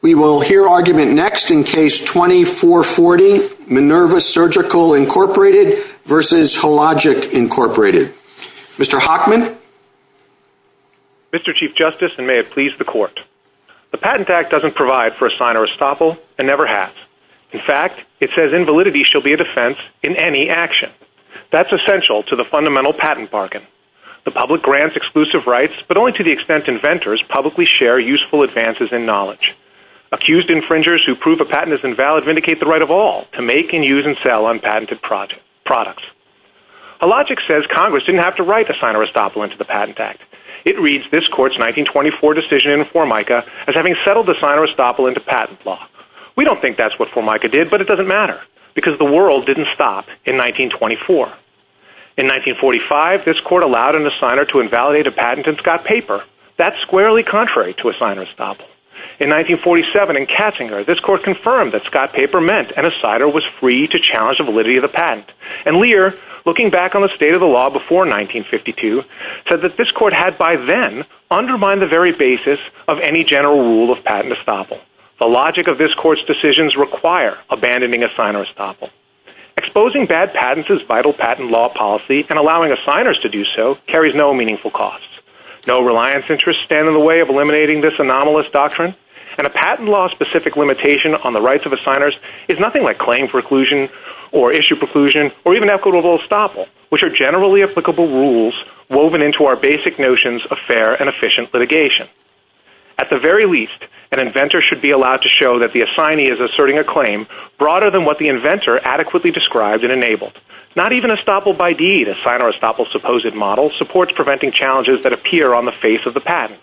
We will hear argument next in Case 2440, Minerva Surgical, Inc. v. Hologic, Inc. Mr. Hockman? Mr. Chief Justice, and may it please the Court, the Patent Act doesn't provide for a sign or estoppel, and never has. In fact, it says invalidity shall be a defense in any action. That's essential to the fundamental patent bargain. The public grants exclusive rights, but only to the extent inventors publicly share useful advances in knowledge. Accused infringers who prove a patent is invalid vindicate the right of all to make and use and sell unpatented products. Hologic says Congress didn't have to write a sign or estoppel into the Patent Act. It reads this Court's 1924 decision in Formica as having settled the sign or estoppel into patent law. We don't think that's what Formica did, but it doesn't matter, because the world didn't stop in 1924. In 1945, this Court allowed an assigner to invalidate a patent in Scott Paper. That's squarely contrary to a sign or estoppel. In 1947, in Katzinger, this Court confirmed that Scott Paper meant an assigner was free to challenge the validity of the patent. And Lear, looking back on the state of the law before 1952, said that this Court had by then undermined the very basis of any general rule of patent estoppel. The logic of this Court's decisions require abandoning a sign or estoppel. Exposing bad patents is vital patent law policy, and allowing assigners to do so carries no meaningful cost. No reliance interests stand in the way of eliminating this anomalous doctrine, and a patent law-specific limitation on the rights of assigners is nothing like claim preclusion or issue preclusion or even equitable estoppel, which are generally applicable rules woven into our basic notions of fair and efficient litigation. At the very least, an inventor should be allowed to show that the assignee is asserting a claim broader than what the inventor adequately described and enabled. Not even estoppel by deed, a sign or estoppel supposed model, supports preventing challenges that appear on the face of the patent.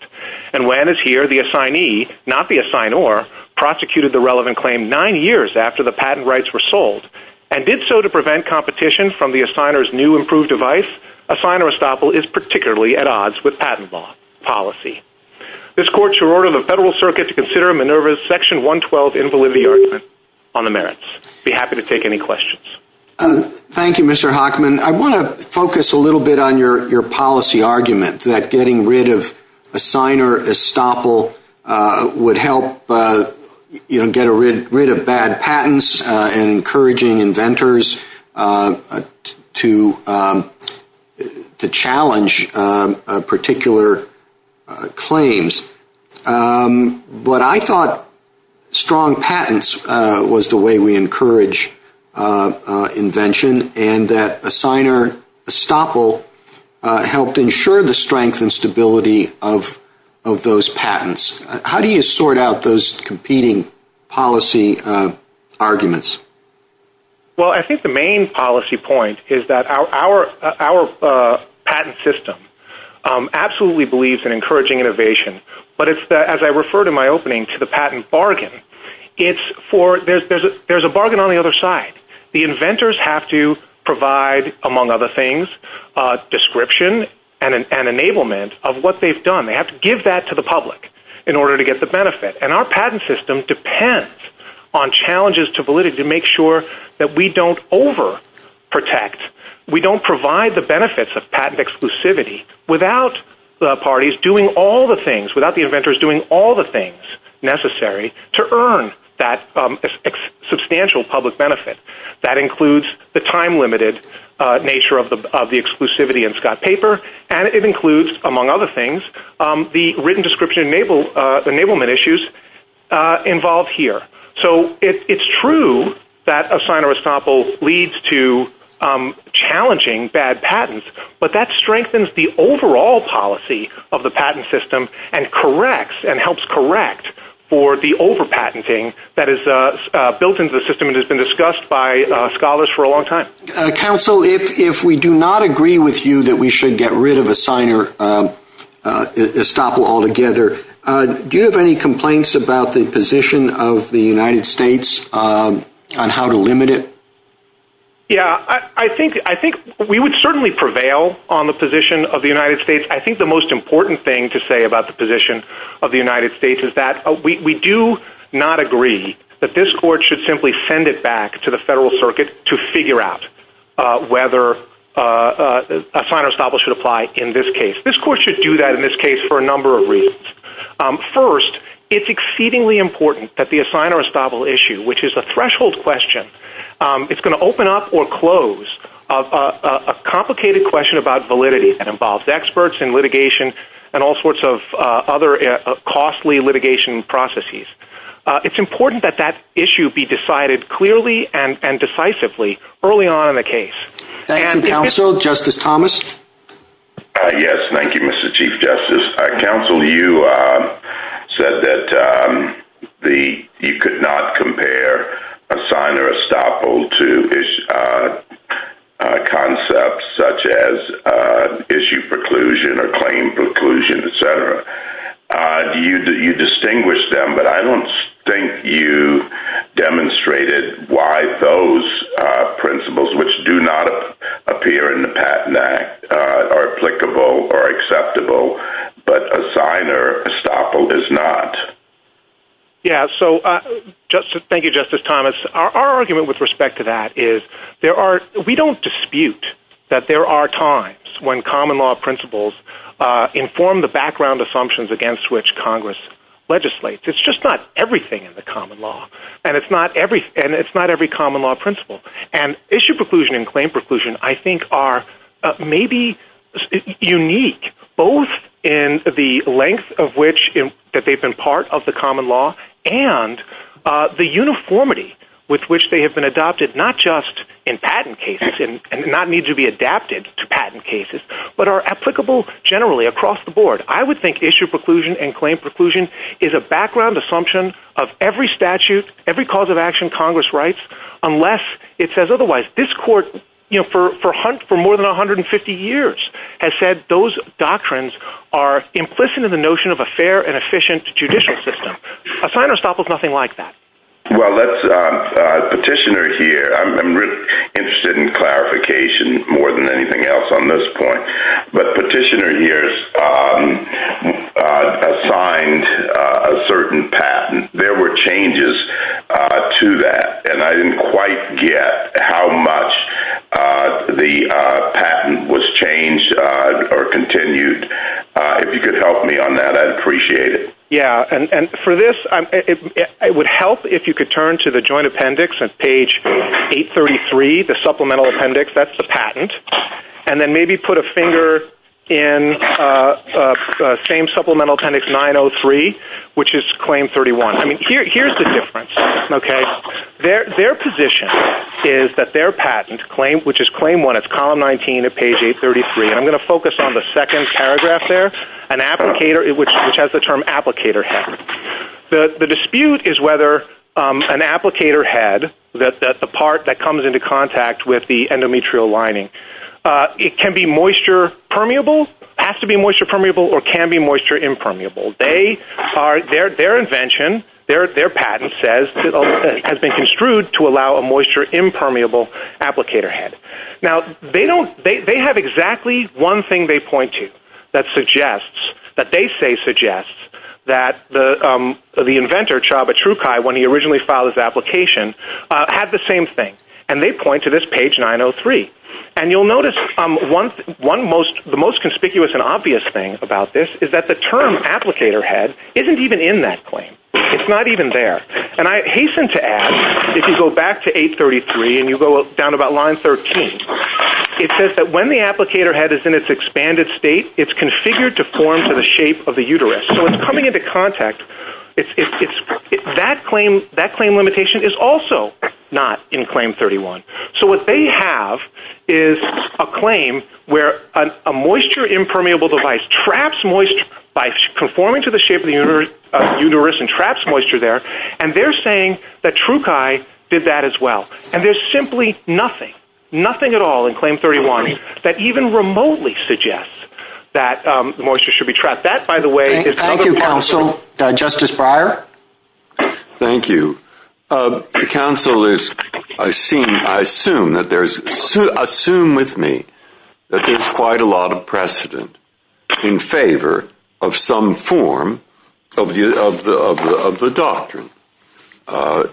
And when, as here, the assignee, not the assignor, prosecuted the relevant claim nine years after the patent rights were sold, and did so to prevent competition from the assigner's new improved device, a sign or estoppel is particularly at odds with patent law policy. This Court shall order the Federal Circuit to consider Minerva's section 112 involving the argument on the merits. I'd be happy to take any questions. Thank you, Mr. Hockman. I want to focus a little bit on your policy argument that getting rid of a sign or estoppel would help get rid of bad patents, and encouraging inventors to challenge particular claims. But I thought strong patents was the way we encourage invention, and that a sign or estoppel helped ensure the strength and stability of those patents. How do you sort out those competing policy arguments? Well, I think the main policy point is that our patent system absolutely believes in encouraging innovation, but as I referred in my opening to the patent bargain, there's a bargain on the other side. The inventors have to provide, among other things, description and enablement of what they've done. They have to give that to the public in order to get the benefit. And our patent system depends on challenges to validity to make sure that we don't overprotect. We don't provide the benefits of patent exclusivity without the parties doing all the things, without the inventors doing all the things necessary to earn that substantial public benefit. That includes the time-limited nature of the exclusivity in Scott's paper, and it includes, among other things, the written description enablement issues involved here. So it's true that a sign or estoppel leads to challenging bad patents, but that strengthens the overall policy of the patent system and corrects and helps correct for the over-patenting that is built into the system and has been discussed by scholars for a long time. Counsel, if we do not agree with you that we should get rid of a sign or estoppel altogether, do you have any complaints about the position of the United States on how to limit it? Yeah, I think we would certainly prevail on the position of the United States. I think the most important thing to say about the position of the United States is that we do not agree that this court should simply send it back to the federal circuit to figure out whether a sign or estoppel should apply in this case. This court should do that in this case for a number of reasons. First, it's exceedingly important that the sign or estoppel issue, which is a threshold question, it's going to open up or close a complicated question about validity that involves experts and litigation and all sorts of other costly litigation processes. It's important that that issue be decided clearly and decisively early on in the case. Thank you, Counsel. Justice Thomas? Yes, thank you, Mr. Chief Justice. Counsel, you said that you could not compare a sign or estoppel to concepts such as issue preclusion or claim preclusion, et cetera. You distinguished them, but I don't think you demonstrated why those principles, which do not appear in the Patent Act, are applicable or acceptable, but a sign or estoppel does not. Yeah, so thank you, Justice Thomas. Our argument with respect to that is we don't dispute that there are times when common law principles inform the background assumptions against which Congress legislates. It's just not everything in the common law, and it's not every common law principle. And issue preclusion and claim preclusion, I think, are maybe unique, both in the length of which they've been part of the common law and the uniformity with which they have been adopted, not just in patent cases, and not need to be adapted to patent cases, but are applicable generally across the board. I would think issue preclusion and claim preclusion is a background assumption of every statute, every cause of action Congress writes, unless it says otherwise. This Court, for more than 150 years, has said those doctrines are implicit in the notion of a fair and efficient judicial system. A sign or estoppel is nothing like that. Well, Petitioner here, I'm interested in clarification more than anything else on this point, but Petitioner here has signed a certain patent. There were changes to that, and I didn't quite get how much the patent was changed or continued. If you could help me on that, I'd appreciate it. Yeah, and for this, it would help if you could turn to the Joint Appendix on page 833, the Supplemental Appendix, that's the patent. And then maybe put a finger in the same Supplemental Appendix 903, which is Claim 31. Here's the difference. Their position is that their patent, which is Claim 1, it's column 19 at page 833. I'm going to focus on the second paragraph there, which has the term applicator head. The dispute is whether an applicator head, the part that comes into contact with the endometrial lining, it can be moisture permeable, has to be moisture permeable, or can be moisture impermeable. Their invention, their patent says, has been construed to allow a moisture impermeable applicator head. Now, they have exactly one thing they point to that they say suggests that the inventor, Chaba Trukai, when he originally filed his application, had the same thing. And they point to this page 903. And you'll notice the most conspicuous and obvious thing about this is that the term applicator head isn't even in that claim. It's not even there. And I hasten to add, if you go back to 833 and you go down about line 13, it says that when the applicator head is in its expanded state, it's configured to form to the shape of the uterus. So it's coming into contact. That claim limitation is also not in Claim 31. So what they have is a claim where a moisture impermeable device traps moisture by conforming to the shape of the uterus and traps moisture there. And they're saying that Trukai did that as well. And there's simply nothing, nothing at all in Claim 31 that even remotely suggests that moisture should be trapped. Thank you, Counsel. Justice Breyer? Thank you. Counsel, I assume with me that there's quite a lot of precedent in favor of some form of the doctrine.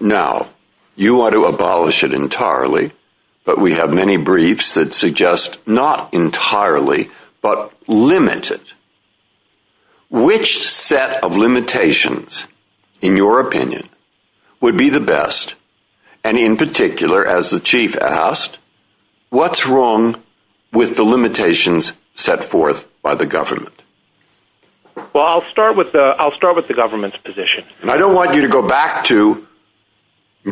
Now, you want to abolish it entirely, but we have many briefs that suggest not entirely, but limited. Which set of limitations, in your opinion, would be the best? And in particular, as the Chief at House, what's wrong with the limitations set forth by the government? Well, I'll start with the government's position. I don't want you to go back to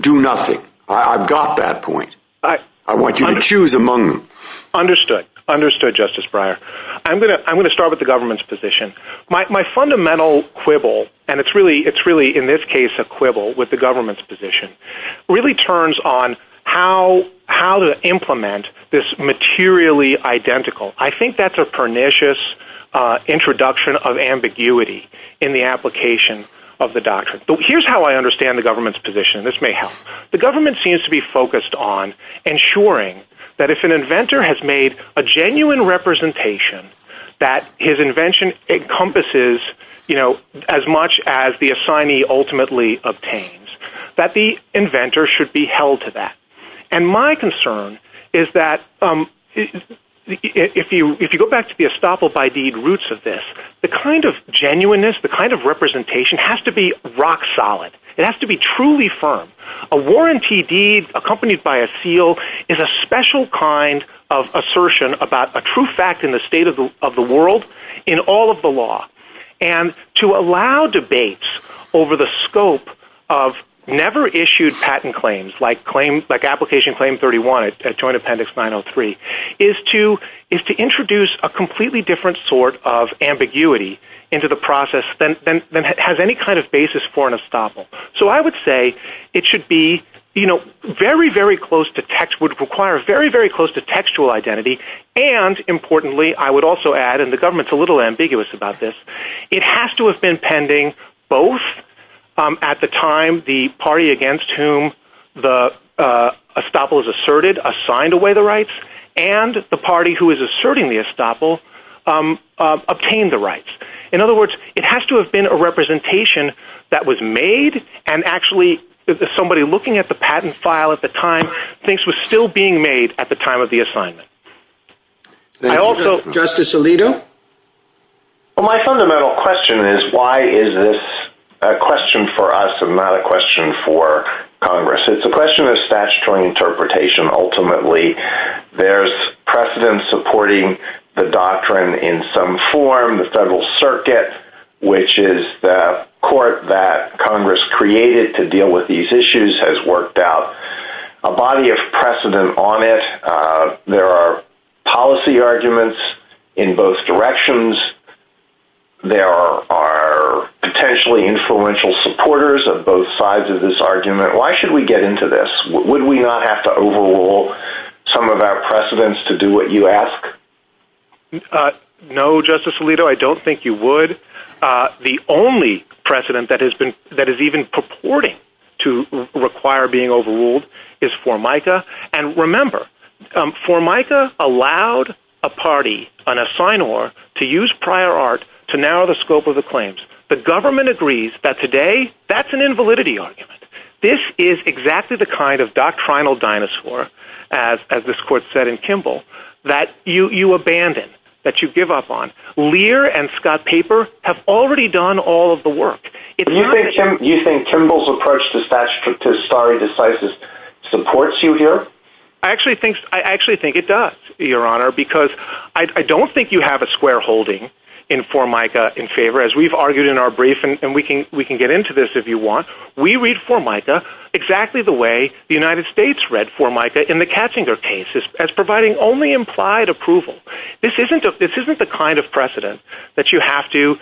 do nothing. I've got that point. I want you to choose among them. Understood. Understood, Justice Breyer. I'm going to start with the government's position. My fundamental quibble, and it's really in this case a quibble with the government's position, really turns on how to implement this materially identical. I think that's a pernicious introduction of ambiguity in the application of the doctrine. Here's how I understand the government's position. This may help. The government seems to be focused on ensuring that if an inventor has made a genuine representation that his invention encompasses as much as the assignee ultimately obtains. That the inventor should be held to that. And my concern is that if you go back to the estoppel by deed roots of this, the kind of genuineness, the kind of representation has to be rock solid. It has to be truly firm. A warranty deed accompanied by a seal is a special kind of assertion about a true fact in the state of the world in all of the law. And to allow debates over the scope of never issued patent claims like application claim 31 at joint appendix 903 is to introduce a completely different sort of ambiguity into the process than has any kind of basis for an estoppel. So I would say it should be very, very close to textual identity. And importantly, I would also add, and the government is a little ambiguous about this, it has to have been pending both at the time the party against whom the estoppel is asserted assigned away the rights, and the party who is asserting the estoppel obtained the rights. In other words, it has to have been a representation that was made, and actually somebody looking at the patent file at the time thinks it was still being made at the time of the assignment. Justice Alito? Well, my fundamental question is why is this a question for us and not a question for Congress? It's a question of statutory interpretation ultimately. There's precedent supporting the doctrine in some form. The Federal Circuit, which is the court that Congress created to deal with these issues, has worked out a body of precedent on it. There are policy arguments in both directions. There are potentially influential supporters of both sides of this argument. Why should we get into this? Would we not have to overrule some of our precedents to do what you ask? No, Justice Alito, I don't think you would. The only precedent that is even purporting to require being overruled is Formica. And remember, Formica allowed a party, an assignor, to use prior art to narrow the scope of the claims. The government agrees that today that's an invalidity argument. This is exactly the kind of doctrinal dinosaur, as this court said in Kimball, that you abandon, that you give up on. Lear and Scott Paper have already done all of the work. Do you think Kimball's approach to statutory decisive supports you here? I actually think it does, Your Honor, because I don't think you have a square holding in Formica in favor. As we've argued in our brief, and we can get into this if you want, we read Formica exactly the way the United States read Formica in the Katzinger case as providing only implied approval. This isn't the kind of precedent that you have to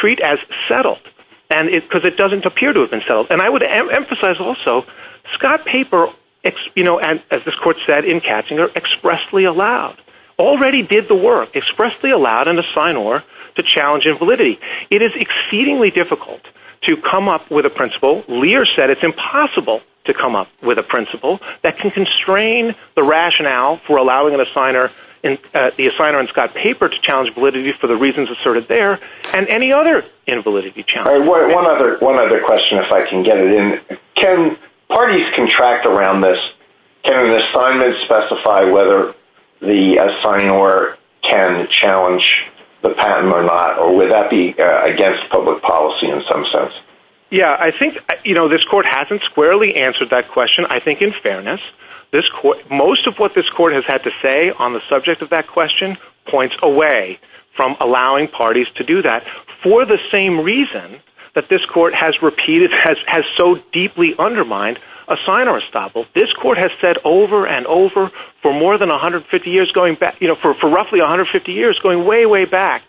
treat as settled because it doesn't appear to have been settled. And I would emphasize also, Scott Paper, as this court said in Katzinger, expressly allowed, already did the work, expressly allowed an assignor to challenge invalidity. It is exceedingly difficult to come up with a principle, Lear said it's impossible to come up with a principle, that can constrain the rationale for allowing the assignor in Scott Paper to challenge validity for the reasons asserted there, and any other invalidity challenge. One other question, if I can get it in. Can parties contract around this? Can the assignment specify whether the assignor can challenge the patent or not? Or would that be against public policy in some sense? Yeah, I think this court hasn't squarely answered that question. I think in fairness, most of what this court has had to say on the subject of that question points away from allowing parties to do that, for the same reason that this court has repeated, has so deeply undermined assignor estoppel. This court has said over and over for more than 150 years, for roughly 150 years, going way, way back,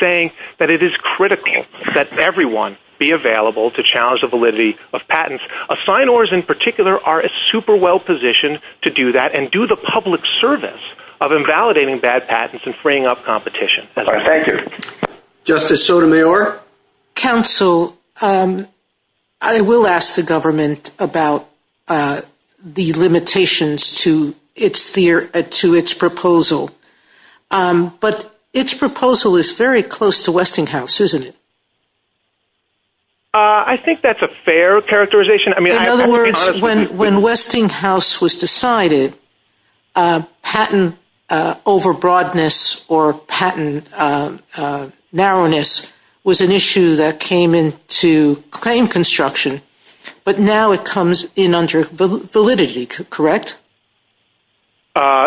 saying that it is critical that everyone be available to challenge the validity of patents. Assignors in particular are super well positioned to do that and do the public service of invalidating bad patents and freeing up competition. Thank you. Justice Sotomayor? Your counsel, I will ask the government about the limitations to its proposal. But its proposal is very close to Westinghouse, isn't it? I think that's a fair characterization. In other words, when Westinghouse was decided, patent over-broadness or patent narrowness was an issue that came into claim construction, but now it comes in under validity, correct?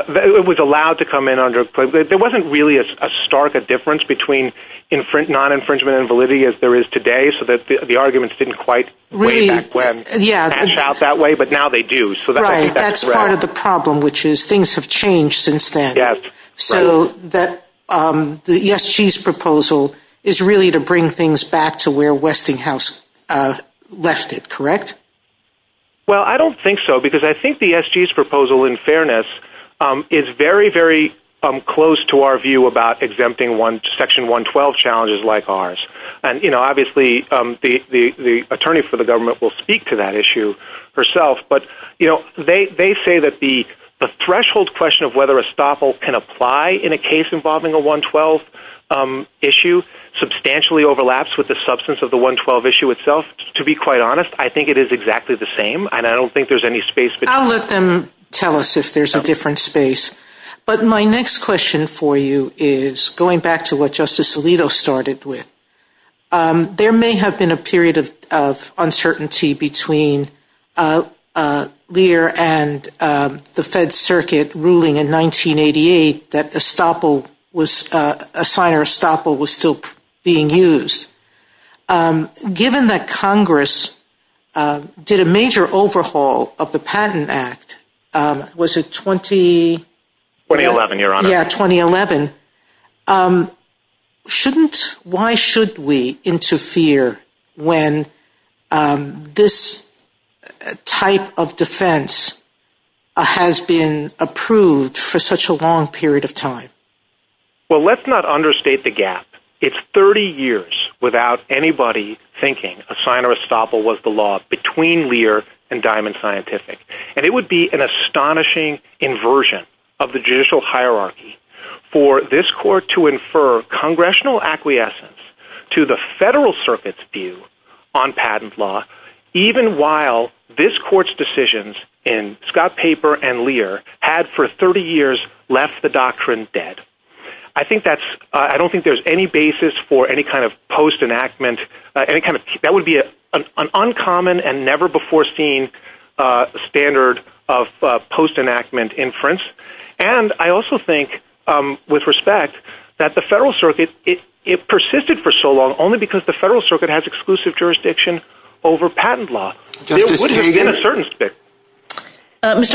It was allowed to come in under validity. There wasn't really a stark difference between non-infringement and validity as there is today, so that the arguments didn't quite reach out that way, but now they do. That's part of the problem, which is things have changed since then. So the ESG's proposal is really to bring things back to where Westinghouse left it, correct? Well, I don't think so, because I think the ESG's proposal, in fairness, is very, very close to our view about exempting Section 112 challenges like ours. Obviously, the attorney for the government will speak to that issue herself, but they say that the threshold question of whether a stoppel can apply in a case involving a 112 issue substantially overlaps with the substance of the 112 issue itself. To be quite honest, I think it is exactly the same, and I don't think there's any space for that. I'll let them tell us if there's a different space. But my next question for you is going back to what Justice Alito started with. There may have been a period of uncertainty between Lear and the Fed's circuit ruling in 1988 that a sign or a stoppel was still being used. Given that Congress did a major overhaul of the Patent Act, was it 2011? Why should we interfere when this type of defense has been approved for such a long period of time? Well, let's not understate the gap. It's 30 years without anybody thinking a sign or a stoppel was the law between Lear and Diamond Scientific. And it would be an astonishing inversion of the judicial hierarchy for this court to infer congressional acquiescence to the Federal Circuit's view on patent law, even while this court's decisions in Scott Paper and Lear had for 30 years left the doctrine dead. I don't think there's any basis for any kind of post-enactment. That would be an uncommon and never-before-seen standard of post-enactment inference. And I also think, with respect, that the Federal Circuit persisted for so long only because the Federal Circuit has exclusive jurisdiction over patent law. Mr.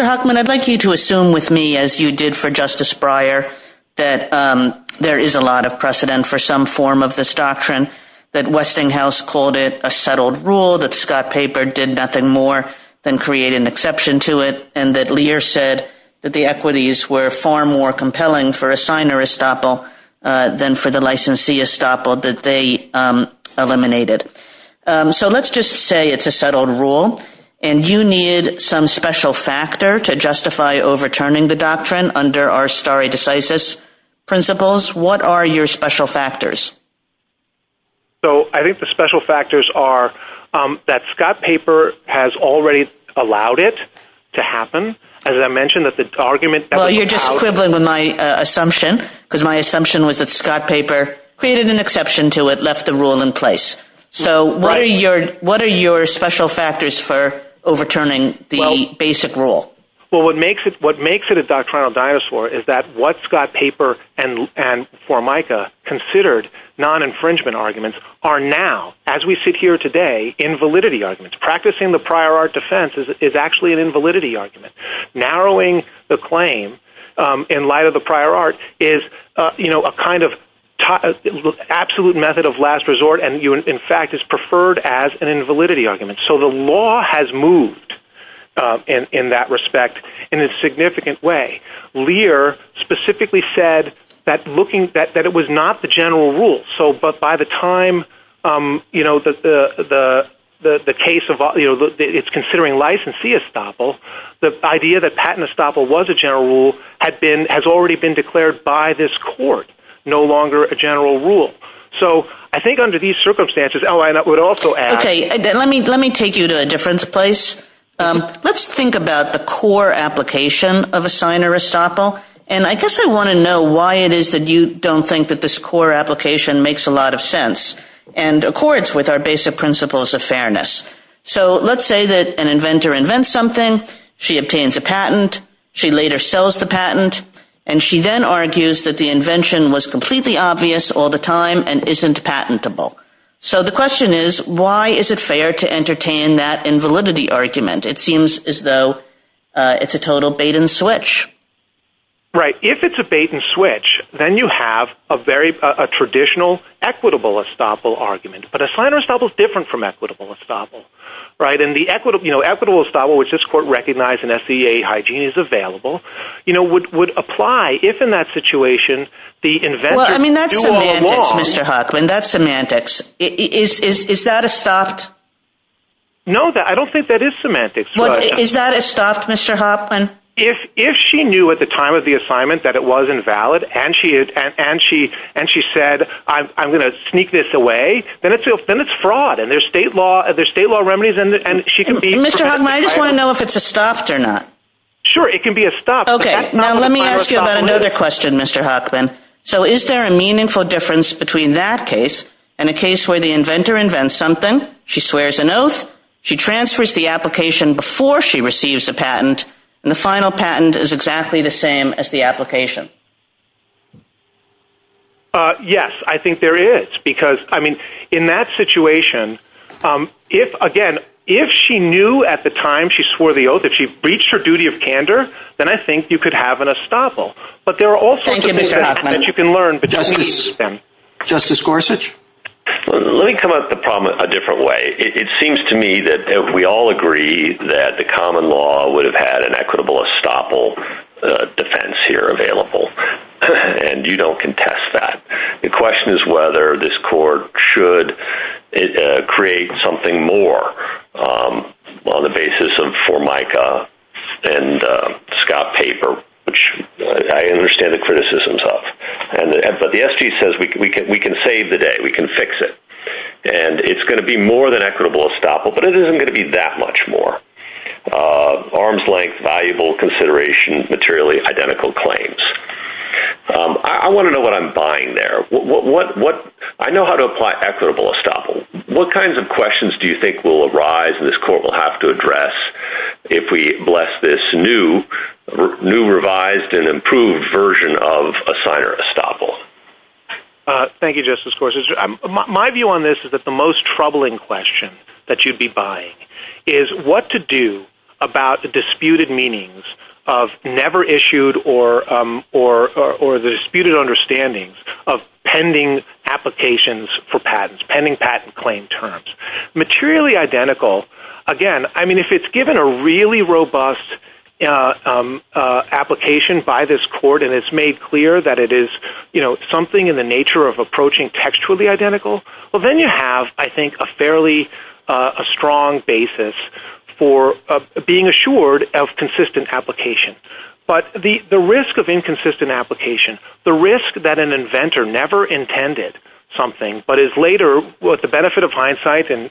Huckman, I'd like you to assume with me, as you did for Justice Breyer, that there is a lot of precedent for some form of this doctrine, that Westinghouse called it a settled rule, that Scott Paper did nothing more than create an exception to it, and that Lear said that the equities were far more compelling for a sign or a stoppel than for the licensee or stoppel that they eliminated. So let's just say it's a settled rule, and you need some special factor to justify overturning the doctrine under our stare decisis principles. What are your special factors? So I think the special factors are that Scott Paper has already allowed it to happen. As I mentioned, that the argument that the— So what are your special factors for overturning the basic rule? Well, what makes it a doctrinal dinosaur is that what Scott Paper and Formica considered non-infringement arguments are now, as we sit here today, invalidity arguments. Practicing the prior art defense is actually an invalidity argument. Narrowing the claim in light of the prior art is a kind of absolute method of last resort, and in fact is preferred as an invalidity argument. So the law has moved in that respect in a significant way. Lear specifically said that it was not the general rule. But by the time the case of—it's considering licensee stoppel, the idea that patent stoppel was a general rule has already been declared by this court no longer a general rule. So I think under these circumstances— Let me take you to a different place. Let's think about the core application of a signer stoppel. And I guess I want to know why it is that you don't think that this core application makes a lot of sense and accords with our basic principles of fairness. So let's say that an inventor invents something. She obtains a patent. She later sells the patent. And she then argues that the invention was completely obvious all the time and isn't patentable. So the question is, why is it fair to entertain that invalidity argument? It seems as though it's a total bait-and-switch. Right. If it's a bait-and-switch, then you have a traditional equitable stoppel argument. But a signer stoppel is different from equitable stoppel. And equitable stoppel, which this court recognized in SEA hygiene, is available, would apply if in that situation the inventor— Well, I mean, that's semantics, Mr. Hoechlin. That's semantics. Is that a stopped— No, I don't think that is semantics. Is that a stopped, Mr. Hoechlin? If she knew at the time of the assignment that it was invalid and she said, I'm going to sneak this away, then it's fraud. And there's state law remedies, and she can be— Mr. Hoechlin, I just want to know if it's a stopped or not. Sure, it can be a stopped. Okay, now let me ask you about another question, Mr. Hoechlin. So is there a meaningful difference between that case and a case where the inventor invents something, she swears an oath, she transfers the application before she receives the patent, and the final patent is exactly the same as the application? Yes, I think there is. Because, I mean, in that situation, again, if she knew at the time she swore the oath that she breached her duty of candor, then I think you could have an estoppel. But there are also things that you can learn. Justice Gorsuch? Let me come at the problem a different way. It seems to me that we all agree that the common law would have had an equitable estoppel defense here available. And you don't contest that. The question is whether this court should create something more on the basis of Formica and Scott Paper, which I understand the criticisms of. But the SG says we can save the day, we can fix it. And it's going to be more than equitable estoppel, but it isn't going to be that much more. Arms length, valuable consideration, materially identical claims. I want to know what I'm buying there. I know how to apply equitable estoppel. What kinds of questions do you think will arise that this court will have to address if we bless this new revised and improved version of a signer estoppel? Thank you, Justice Gorsuch. My view on this is that the most troubling question that you'd be buying is what to do about the disputed meanings of never issued or the disputed understandings of pending applications for patents, pending patent claim terms. Materially identical. Again, I mean, if it's given a really robust application by this court and it's made clear that it is something in the nature of approaching textually identical, well, then you have, I think, a fairly strong basis for being assured of consistent application. But the risk of inconsistent application, the risk that an inventor never intended something but is later, with the benefit of hindsight and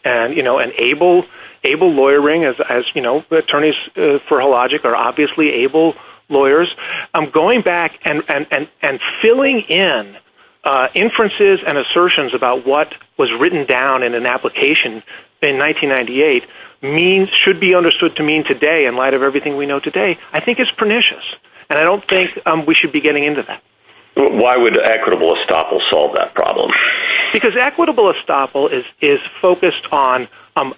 able lawyering as attorneys for Hologic are obviously able lawyers, going back and filling in inferences and assertions about what was written down in an application in 1998 should be understood to mean today in light of everything we know today. I think it's pernicious, and I don't think we should be getting into that. Why would equitable estoppel solve that problem? Because equitable estoppel is focused on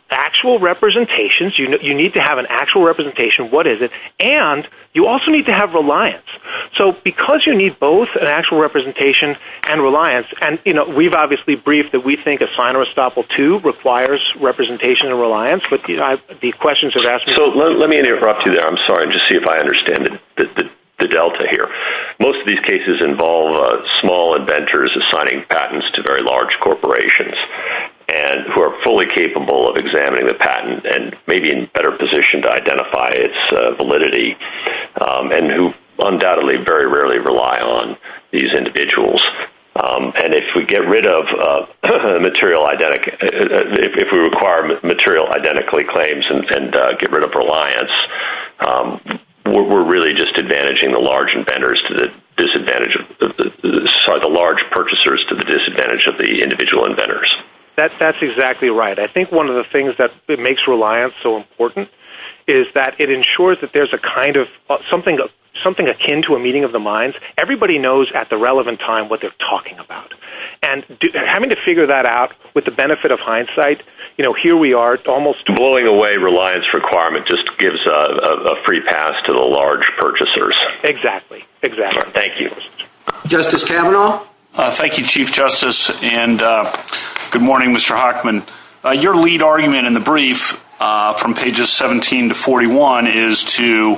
actual representations. You need to have an actual representation of what is it, and you also need to have reliance. So because you need both an actual representation and reliance, and we've obviously briefed that we think a signer estoppel, too, requires representation and reliance. So let me interrupt you there, I'm sorry, and just see if I understand the delta here. Most of these cases involve small inventors assigning patents to very large corporations, who are fully capable of examining the patent and may be in a better position to identify its validity, and who undoubtedly very rarely rely on these individuals. And if we require material identically claims and get rid of reliance, we're really just advantaging the large purchasers to the disadvantage of the individual inventors. That's exactly right. I think one of the things that makes reliance so important is that it ensures that there's something akin to a meeting of the minds. Everybody knows at the relevant time what they're talking about. And having to figure that out with the benefit of hindsight, you know, here we are, it's almost— Blowing away reliance requirement just gives a free pass to the large purchasers. Exactly, exactly. Thank you. Justice Kavanaugh? Thank you, Chief Justice, and good morning, Mr. Hochman. Your lead argument in the brief from pages 17 to 41 is to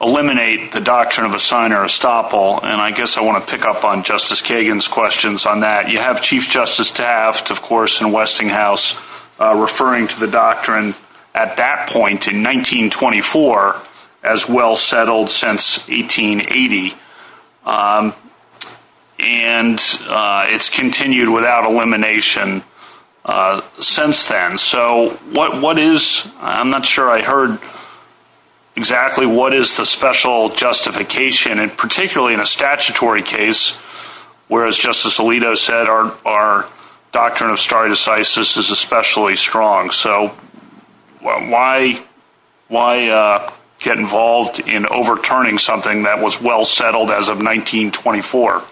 eliminate the doctrine of assigner estoppel, and I guess I want to pick up on Justice Kagan's questions on that. You have Chief Justice Taft, of course, in Westinghouse referring to the doctrine at that point in 1924 as well settled since 1880. And it's continued without elimination since then. So what is—I'm not sure I heard exactly what is the special justification, and particularly in a statutory case, where, as Justice Alito said, our doctrine of stare decisis is especially strong. So why get involved in overturning something that was well settled as of 1924?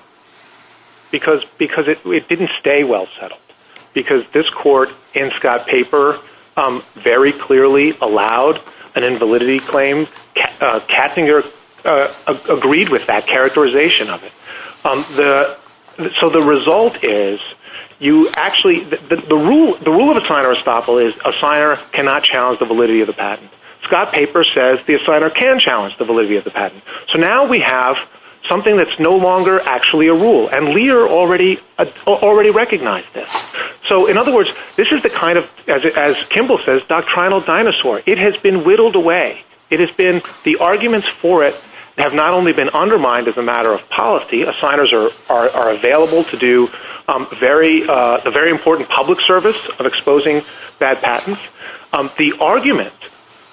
Because it didn't stay well settled. Because this court, in Scott's paper, very clearly allowed an invalidity claim. Katzinger agreed with that characterization of it. So the result is you actually—the rule of assigner estoppel is assigner cannot challenge the validity of the patent. Scott's paper says the assigner can challenge the validity of the patent. So now we have something that's no longer actually a rule, and Lear already recognized this. So, in other words, this is the kind of, as Kimball says, doctrinal dinosaur. It has been whittled away. It has been—the arguments for it have not only been undermined as a matter of policy. Assigners are available to do a very important public service of exposing bad patents. The argument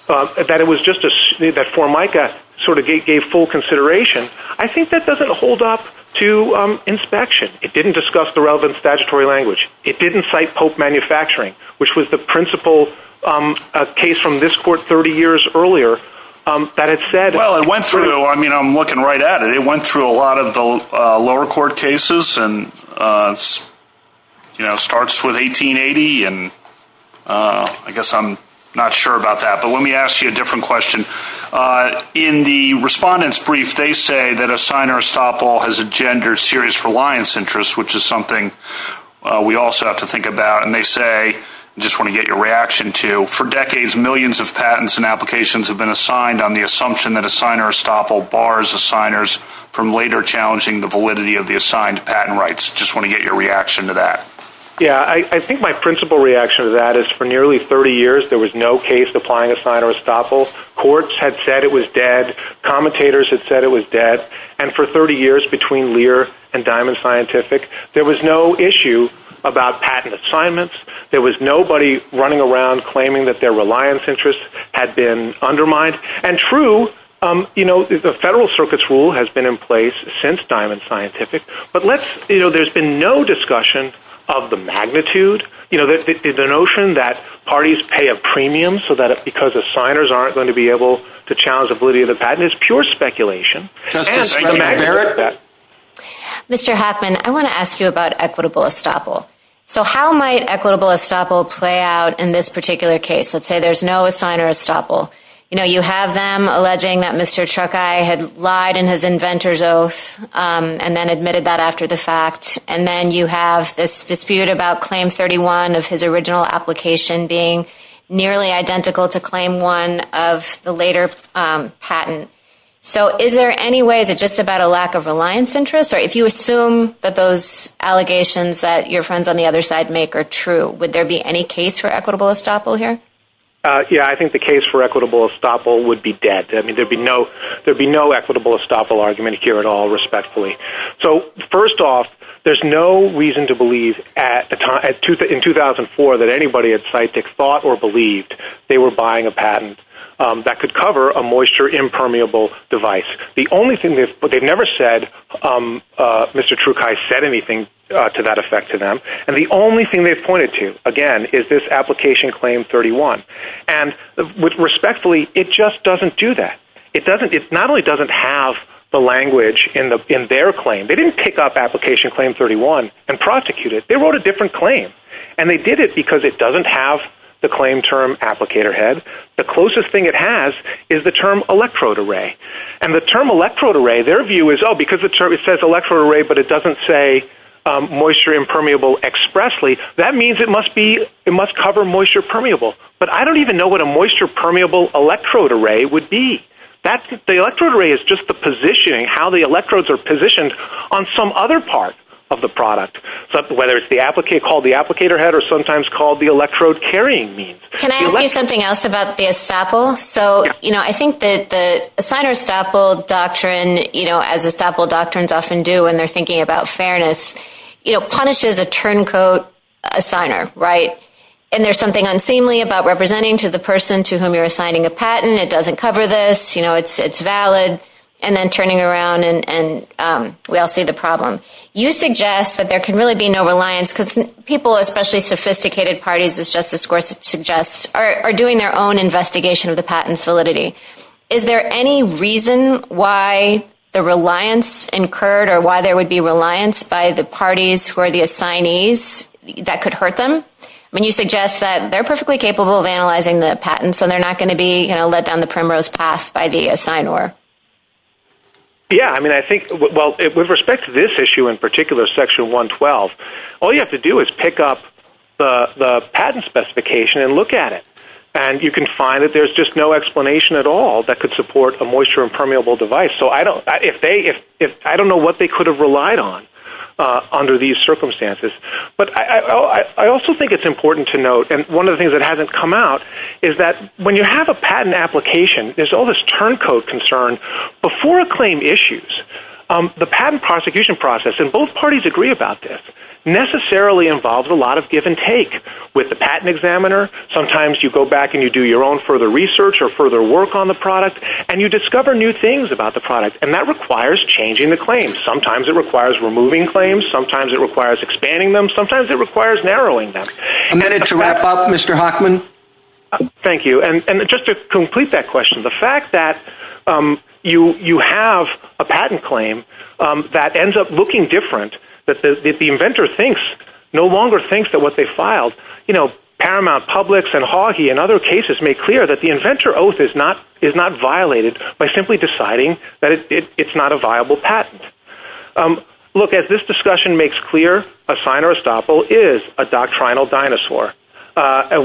that Formica sort of gave full consideration, I think that doesn't hold up to inspection. It didn't discuss the relevant statutory language. It didn't cite Pope manufacturing, which was the principal case from this court 30 years earlier that had said— Well, it went through—I mean, I'm looking right at it. It went through a lot of the lower court cases and starts with 1880, and I guess I'm not sure about that. But let me ask you a different question. In the respondent's brief, they say that assigner estoppel has engendered serious reliance interests, which is something we also have to think about. And they say—I just want to get your reaction to—for decades, millions of patents and applications have been assigned on the assumption that assigner estoppel bars assigners from later challenging the validity of the assigned patent rights. I just want to get your reaction to that. Yeah, I think my principal reaction to that is for nearly 30 years, there was no case applying assigner estoppel. Courts had said it was dead. Commentators had said it was dead. And for 30 years between Lear and Diamond Scientific, there was no issue about patent assignments. There was nobody running around claiming that their reliance interests had been undermined. And true, the Federal Circuit's rule has been in place since Diamond Scientific, but there's been no discussion of the magnitude, the notion that parties pay a premium because assigners aren't going to be able to challenge the validity of the patent. It's pure speculation. Mr. Hoffman, I want to ask you about equitable estoppel. So how might equitable estoppel play out in this particular case? Let's say there's no assigner estoppel. You know, you have them alleging that Mr. Truckeye had lied in his inventor's oath and then admitted that after the fact. And then you have this dispute about Claim 31 of his original application being nearly identical to Claim 1 of the later patent. So is there any way that just about a lack of reliance interest, or if you assume that those allegations that your friends on the other side make are true, would there be any case for equitable estoppel here? Yeah, I think the case for equitable estoppel would be dead. I mean, there would be no equitable estoppel argument here at all, respectfully. So first off, there's no reason to believe in 2004 that anybody at Scitech thought or believed they were buying a patent that could cover a moisture-impermeable device. The only thing is they've never said Mr. Truckeye said anything to that effect to them. And the only thing they've pointed to, again, is this application Claim 31. And respectfully, it just doesn't do that. It not only doesn't have the language in their claim. They didn't pick up application Claim 31 and prosecute it. They wrote a different claim. And they did it because it doesn't have the claim term applicator head. The closest thing it has is the term electrode array. And the term electrode array, their view is, oh, because it says electrode array but it doesn't say moisture-impermeable expressly, that means it must cover moisture-permeable. But I don't even know what a moisture-permeable electrode array would be. The electrode array is just the positioning, how the electrodes are positioned on some other part of the product, whether it's called the applicator head or sometimes called the electrode carrying means. Can I ask you something else about the essapel? So, you know, I think that the assigner essapel doctrine, you know, as essapel doctrines often do when they're thinking about fairness, you know, punishes a turncoat assigner, right? And there's something unseemly about representing to the person to whom you're assigning a patent, it doesn't cover this, you know, it's valid, and then turning around and we all see the problem. You suggest that there can really be no reliance because people, especially sophisticated parties as Justice Gorsuch suggests, are doing their own investigation of the patent's validity. Is there any reason why the reliance incurred or why there would be reliance by the parties who are the assignees that could hurt them? I mean, you suggest that they're perfectly capable of analyzing the patent, so they're not going to be, you know, let down the primrose path by the assignor. Yeah, I mean, I think, well, with respect to this issue in particular, Section 112, all you have to do is pick up the patent specification and look at it. And you can find that there's just no explanation at all that could support a moisture and permeable device, so I don't know what they could have relied on under these circumstances. But I also think it's important to note, and one of the things that hasn't come out, is that when you have a patent application, there's all this turncoat concern. Before a claim issues, the patent prosecution process, and both parties agree about this, necessarily involves a lot of give and take with the patent examiner. Sometimes you go back and you do your own further research or further work on the product, and you discover new things about the product, and that requires changing the claim. Sometimes it requires removing claims. Sometimes it requires expanding them. Sometimes it requires narrowing them. A minute to wrap up, Mr. Hochman. Thank you. And just to complete that question, the fact that you have a patent claim that ends up looking different, that the inventor thinks, no longer thinks that what they filed, you know, Paramount Publix and Hoggy and other cases make clear that the inventor oath is not violated by simply deciding that it's not a viable patent. Look, as this discussion makes clear, a signer estoppel is a doctrinal dinosaur.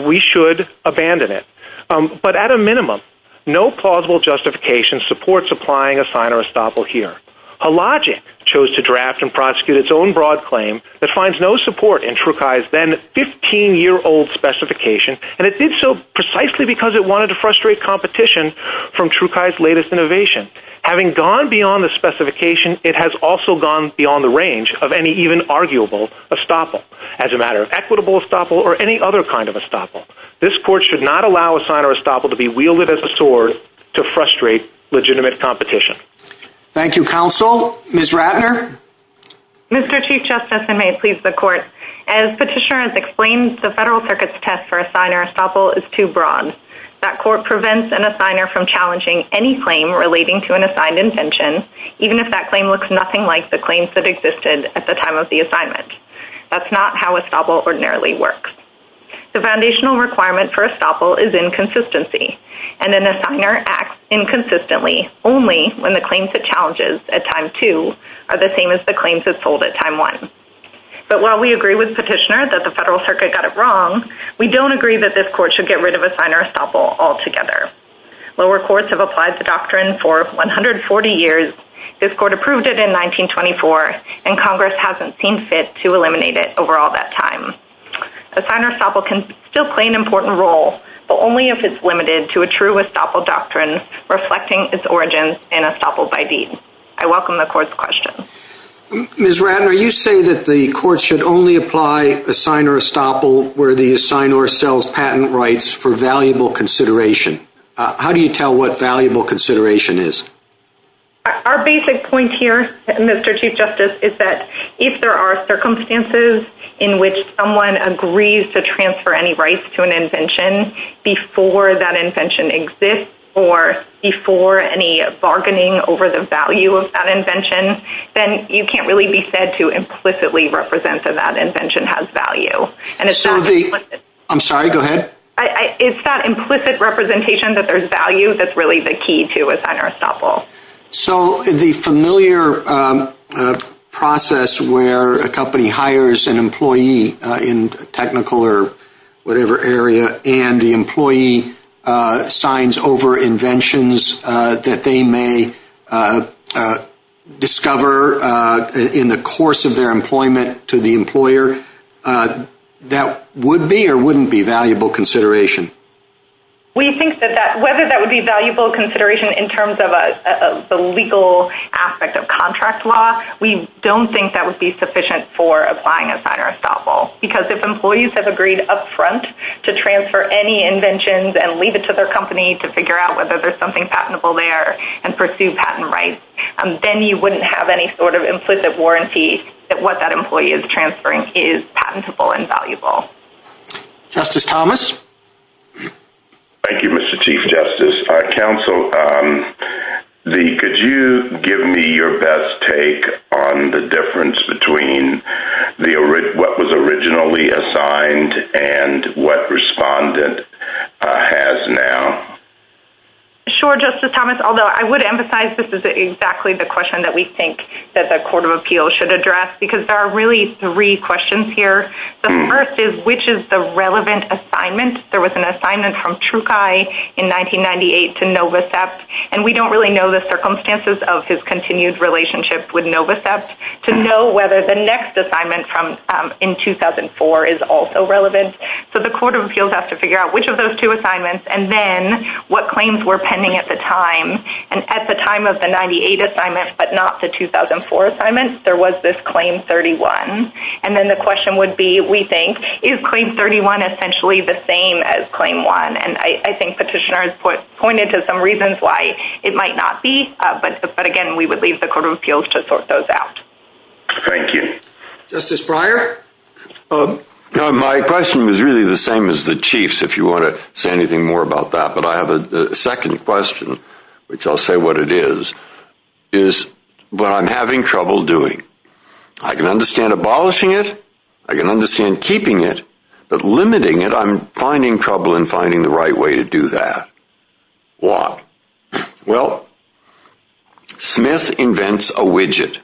We should abandon it. But at a minimum, no plausible justification supports applying a signer estoppel here. Allogic chose to draft and prosecute its own broad claim that finds no support in Truchi's then 15-year-old specification, and it did so precisely because it wanted to frustrate competition from Truchi's latest innovation. Having gone beyond the specification, it has also gone beyond the range of any even arguable estoppel, as a matter of equitable estoppel or any other kind of estoppel. This court should not allow a signer estoppel to be wielded as a sword to frustrate legitimate competition. Thank you, counsel. Ms. Ratner? Mr. Chief Justice, and may it please the Court, as Petitioner has explained, the Federal Circuit's test for a signer estoppel is too broad. That court prevents an assigner from challenging any claim relating to an assigned invention, even if that claim looks nothing like the claims that existed at the time of the assignment. That's not how estoppel ordinarily works. The foundational requirement for estoppel is inconsistency, and an assigner acts inconsistently only when the claims it challenges at time two are the same as the claims it pulled at time one. But while we agree with Petitioner that the Federal Circuit got it wrong, we don't agree that this court should get rid of a signer estoppel altogether. Lower courts have applied the doctrine for 140 years. This court approved it in 1924, and Congress hasn't seen fit to eliminate it over all that time. A signer estoppel can still play an important role, but only if it's limited to a true estoppel doctrine reflecting its origins in estoppel by deed. I welcome the Court's question. Ms. Ratner, you say that the Court should only apply a signer estoppel where the assigner sells patent rights for valuable consideration. How do you tell what valuable consideration is? Our basic point here, Mr. Chief Justice, is that if there are circumstances in which someone agrees to transfer any rights to an invention before that invention exists or before any bargaining over the value of that invention, then you can't really be said to implicitly represent that that invention has value. I'm sorry, go ahead. It's that implicit representation that there's value that's really the key to a signer estoppel. So the familiar process where a company hires an employee in a technical or whatever area and the employee signs over inventions that they may discover in the course of their employment to the employer, that would be or wouldn't be valuable consideration? We think that whether that would be valuable consideration in terms of a legal aspect of contract law, we don't think that would be sufficient for applying a signer estoppel because if employees have agreed up front to transfer any inventions and leave it to their company to figure out whether there's something patentable there and pursue patent rights, then you wouldn't have any sort of implicit warranty that what that employee is transferring is patentable and valuable. Justice Thomas? Thank you, Mr. Chief Justice. Counsel, could you give me your best take on the difference between what was originally assigned and what respondent has now? Sure, Justice Thomas, although I would emphasize this is exactly the question that we think that the Court of Appeals should address because there are really three questions here. The first is, which is the relevant assignment? There was an assignment from Truckei in 1998 to Novacep, and we don't really know the circumstances of his continued relationship with Novacep. To know whether the next assignment in 2004 is also relevant. So the Court of Appeals has to figure out which of those two assignments and then what claims were pending at the time. And at the time of the 98 assignment but not the 2004 assignment, there was this Claim 31. And then the question would be, we think, is Claim 31 essentially the same as Claim 1? And I think Petitioner has pointed to some reasons why it might not be. But again, we would leave the Court of Appeals to sort those out. Thank you. Justice Breyer? My question is really the same as the Chief's if you want to say anything more about that. But I have a second question, which I'll say what it is, is what I'm having trouble doing. I can understand abolishing it. I can understand keeping it. But limiting it, I'm finding trouble in finding the right way to do that. Why? Well, Smith invents a widget.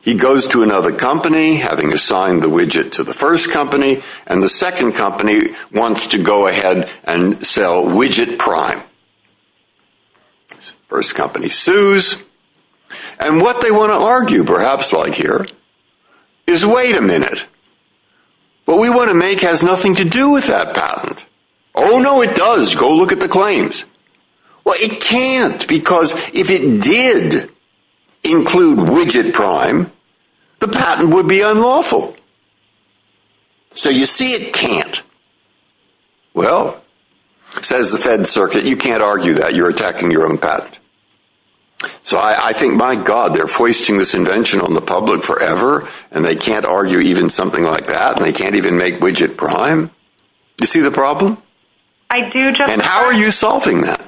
He goes to another company, having assigned the widget to the first company, and the second company wants to go ahead and sell widget prime. First company sues. And what they want to argue, perhaps like here, is wait a minute. What we want to make has nothing to do with that patent. Oh, no, it does. Go look at the claims. Well, it can't because if it did include widget prime, the patent would be unlawful. So you see it can't. Well, says the Fed Circuit, you can't argue that. You're attacking your own patent. So I think, my God, they're foisting this invention on the public forever, and they can't argue even something like that. And they can't even make widget prime. Do you see the problem? I do. And how are you solving that?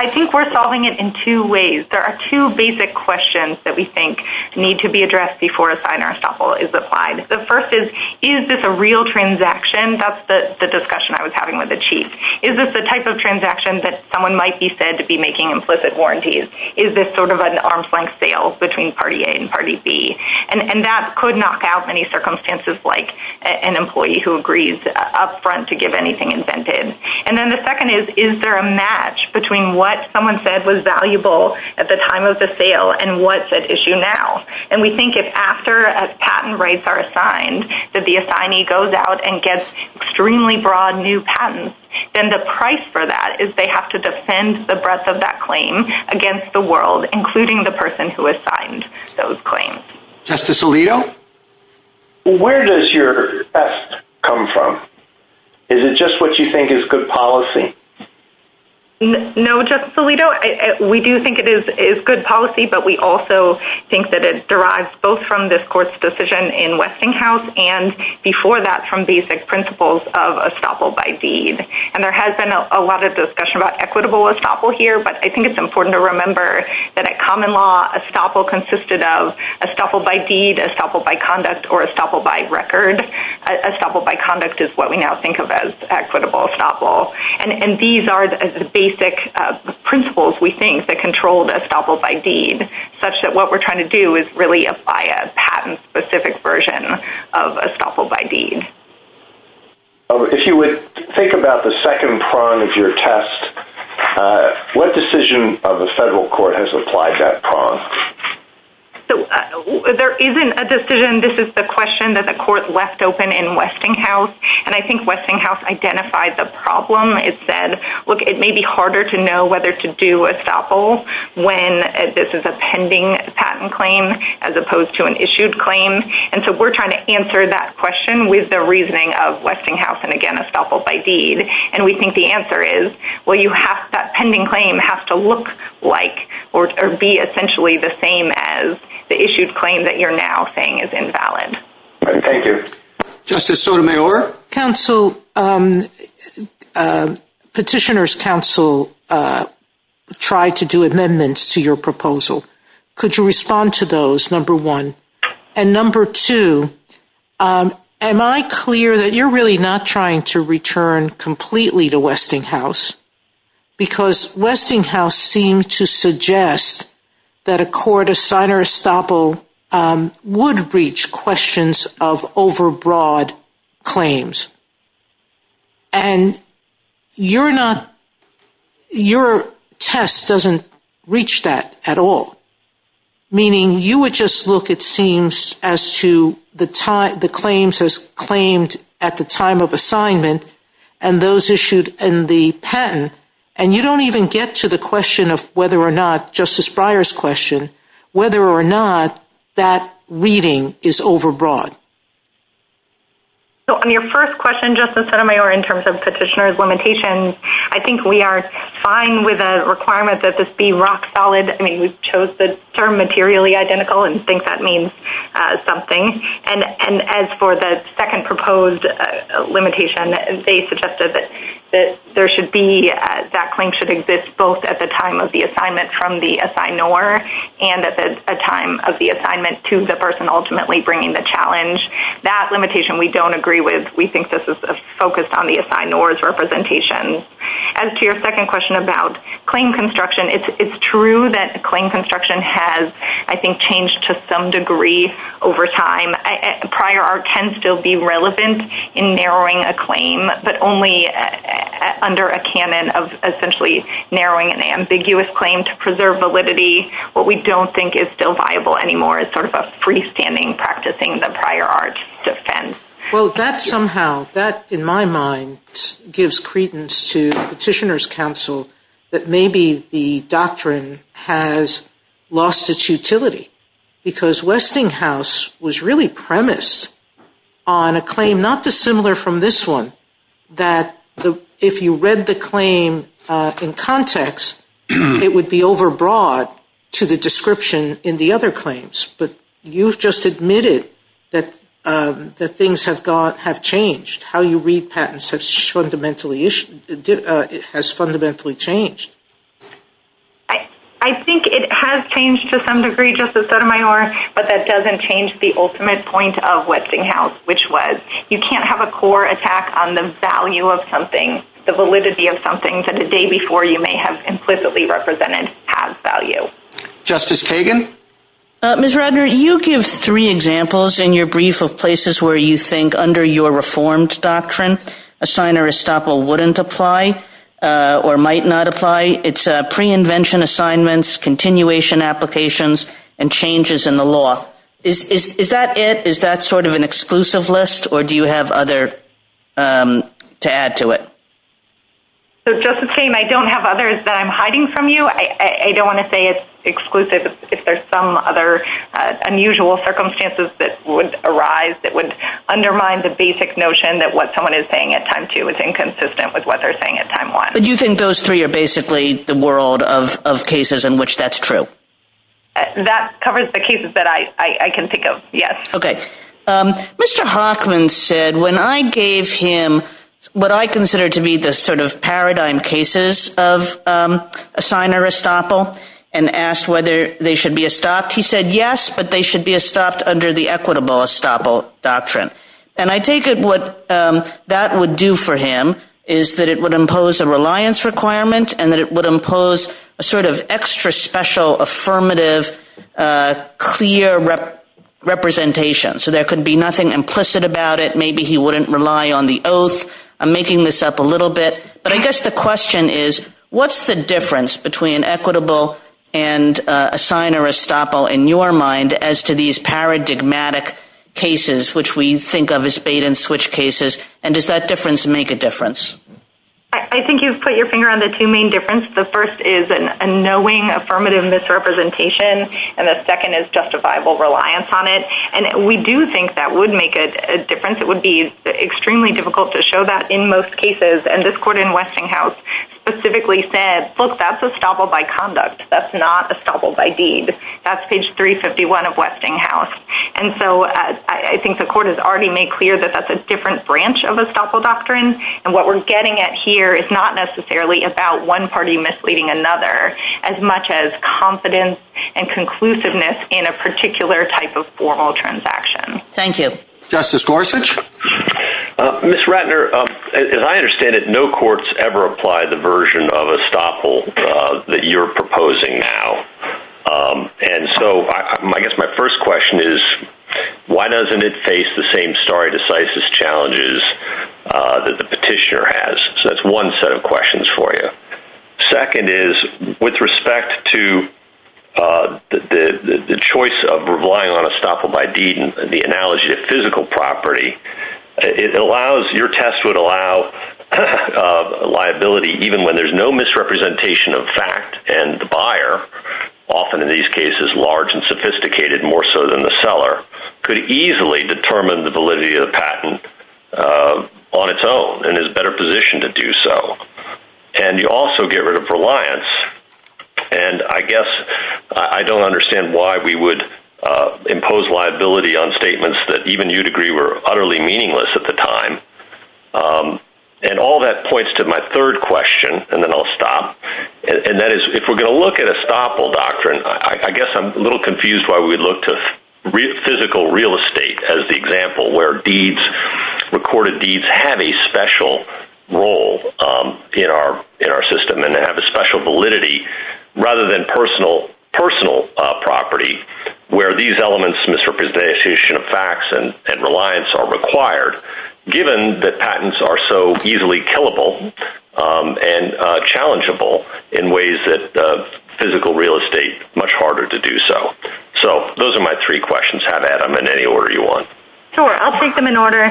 I think we're solving it in two ways. There are two basic questions that we think need to be addressed before a signer sample is applied. The first is, is this a real transaction? That's the discussion I was having with the chief. Is this the type of transaction that someone might be said to be making implicit warranties? Is this sort of an arm's length sale between party A and party B? And that could knock out any circumstances like an employee who agrees up front to give anything intended. And then the second is, is there a match between what someone said was valuable at the time of the sale and what's at issue now? And we think if after a patent rights are assigned, that the assignee goes out and gets extremely broad new patents, then the price for that is they have to defend the breadth of that claim against the world, including the person who assigned those claims. Justice Alito? Where does your theft come from? Is it just what you think is good policy? No, Justice Alito, we do think it is good policy, but we also think that it derives both from this court's decision in Westinghouse and before that from basic principles of estoppel by deed. And there has been a lot of discussion about equitable estoppel here, but I think it's important to remember that at common law, estoppel consisted of estoppel by deed, estoppel by conduct, or estoppel by record. Estoppel by conduct is what we now think of as equitable estoppel. And these are the basic principles, we think, that control the estoppel by deed, such that what we're trying to do is really apply a patent-specific version of estoppel by deed. If you would think about the second prong of your test, what decision of the federal court has applied that prong? There isn't a decision. This is the question that the court left open in Westinghouse, and I think Westinghouse identified the problem. It said, look, it may be harder to know whether to do estoppel when this is a pending patent claim as opposed to an issued claim, and so we're trying to answer that question with the reasoning of Westinghouse and, again, estoppel by deed. And we think the answer is, well, that pending claim has to look like or be essentially the same as the issued claim that you're now saying is invalid. Thank you. Justice Sotomayor? Counsel, Petitioner's Counsel tried to do amendments to your proposal. Could you respond to those, number one? And number two, am I clear that you're really not trying to return completely to Westinghouse because Westinghouse seemed to suggest that a court assigner estoppel would reach questions of overbroad claims, and your test doesn't reach that at all, meaning you would just look, it seems, as to the claims as claimed at the time of assignment and those issued in the patent, and you don't even get to the question of whether or not, Justice Breyer's question, whether or not that reading is overbroad? So on your first question, Justice Sotomayor, in terms of petitioner's limitation, I think we are fine with the requirement that this be rock solid. I mean, we chose the term materially identical and think that means something. And as for the second proposed limitation, they suggested that there should be, that claim should exist both at the time of the assignment from the assignor and at the time of the assignment to the person ultimately bringing the challenge. That limitation we don't agree with. We think this is focused on the assignor's representation. As to your second question about claim construction, it's true that claim construction has, I think, changed to some degree over time. Prior art can still be relevant in narrowing a claim, but only under a canon of essentially narrowing an ambiguous claim to preserve validity. What we don't think is still viable anymore is sort of a freestanding practicing that prior art defends. Well, that somehow, that, in my mind, gives credence to petitioner's counsel that maybe the doctrine has lost its utility. Because Westinghouse was really premised on a claim not dissimilar from this one, that if you read the claim in context, it would be overbroad to the description in the other claims. But you've just admitted that things have changed. How you read patents has fundamentally changed. I think it has changed to some degree, Justice Sotomayor, but that doesn't change the ultimate point of Westinghouse, which was you can't have a core attack on the value of something, the validity of something that the day before you may have implicitly represented has value. Justice Kagan? Ms. Rodner, you give three examples in your brief of places where you think under your reformed doctrine, assigner estoppel wouldn't apply or might not apply. It's pre-invention assignments, continuation applications, and changes in the law. Is that it? Is that sort of an exclusive list, or do you have other to add to it? So, Justice Haynes, I don't have others that I'm hiding from you. I don't want to say it's exclusive. If there's some other unusual circumstances that would arise, it would undermine the basic notion that what someone is saying at time two is inconsistent with what they're saying at time one. But you think those three are basically the world of cases in which that's true? That covers the cases that I can think of, yes. Okay. Mr. Hoffman said when I gave him what I consider to be the sort of paradigm cases of assigner estoppel and asked whether they should be estopped, he said yes, but they should be estopped under the equitable estoppel doctrine. And I take it what that would do for him is that it would impose a reliance requirement and that it would impose a sort of extra special affirmative clear representation. So there could be nothing implicit about it. Maybe he wouldn't rely on the oath. I'm making this up a little bit. But I guess the question is what's the difference between equitable and assigner estoppel in your mind as to these paradigmatic cases, which we think of as bait and switch cases, and does that difference make a difference? I think you've put your finger on the two main differences. The first is a knowing affirmative misrepresentation, and the second is justifiable reliance on it. And we do think that would make a difference. It would be extremely difficult to show that in most cases, and this court in Westinghouse specifically said, look, that's estoppel by conduct. That's not estoppel by deed. That's page 351 of Westinghouse. And so I think the court has already made clear that that's a different branch of estoppel doctrine, and what we're getting at here is not necessarily about one party misleading another as much as confidence and conclusiveness in a particular type of formal transaction. Thank you. Justice Gorsuch? Ms. Ratner, as I understand it, no courts ever apply the version of estoppel that you're proposing now. And so I guess my first question is, why doesn't it face the same stare decisis challenges that the petitioner has? So that's one set of questions for you. Second is, with respect to the choice of relying on estoppel by deed and the liability, it allows your test would allow liability, even when there's no misrepresentation of fact and the buyer, often in these cases, large and sophisticated more so than the seller could easily determine the validity of the patent on its own and is better positioned to do so. And you also get rid of reliance. And I guess I don't understand why we would impose liability on statements that even you degree were utterly meaningless at the time. And all that points to my third question, and then I'll stop. And that is, if we're going to look at estoppel doctrine, I guess I'm a little confused why we look to real physical real estate as the example where deeds recorded, these have a special role in our, in our system and have a special validity rather than personal, personal property where these elements misrepresentation of facts and, and reliance are required given that patents are so easily killable and challengeable in ways that physical real estate much harder to do. So, so those are my three questions have Adam in any order you want. Sure. I'll take them in order.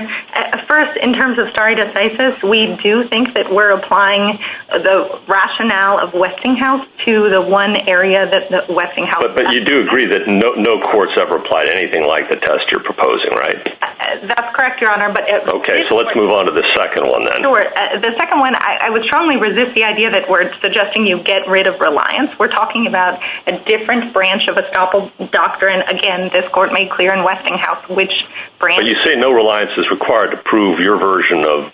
First, in terms of starting to say this, we do think that we're applying the rationale of Westinghouse to the one area that the Westinghouse, but you do agree that no, no courts ever apply to anything like the test you're proposing, right? That's correct. Your honor. Okay. So let's move on to the second one. The second one, I would strongly resist the idea that we're suggesting you get rid of reliance. We're talking about a different branch of estoppel doctor. And again, this court made clear in Westinghouse, which brand you say no reliance is required to prove your version of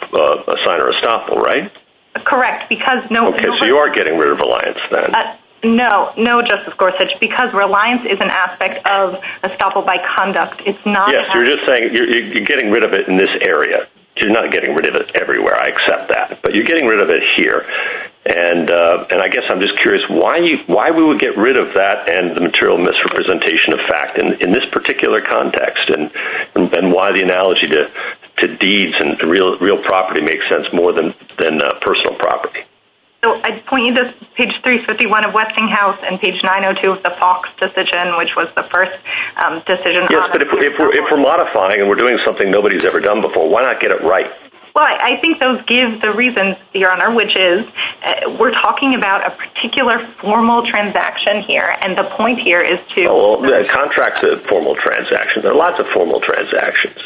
a sign or a stopper, right? Correct. Because no, no, no just of course, such because reliance is an aspect of a stopper by conduct. It's not, so you're just saying you're getting rid of it in this area. You're not getting rid of it everywhere. I accept that, but you're getting rid of it here. And, and I guess I'm just curious why, why we would get rid of that and the material misrepresentation of fact in, in this particular context, and why the analogy to the deeds and real, real property makes sense more than, than a personal property. So I point you to page three 51 of Westinghouse and page 902 of the Fox decision, which was the first decision. Yes. But if we're, if we're modifying and we're doing something nobody's ever done before, why not get it right? Well, I think those give the reason the honor, which is we're talking about a particular formal transaction here. And the point here is to, well, the contracts, the formal transactions, there are lots of formal transactions.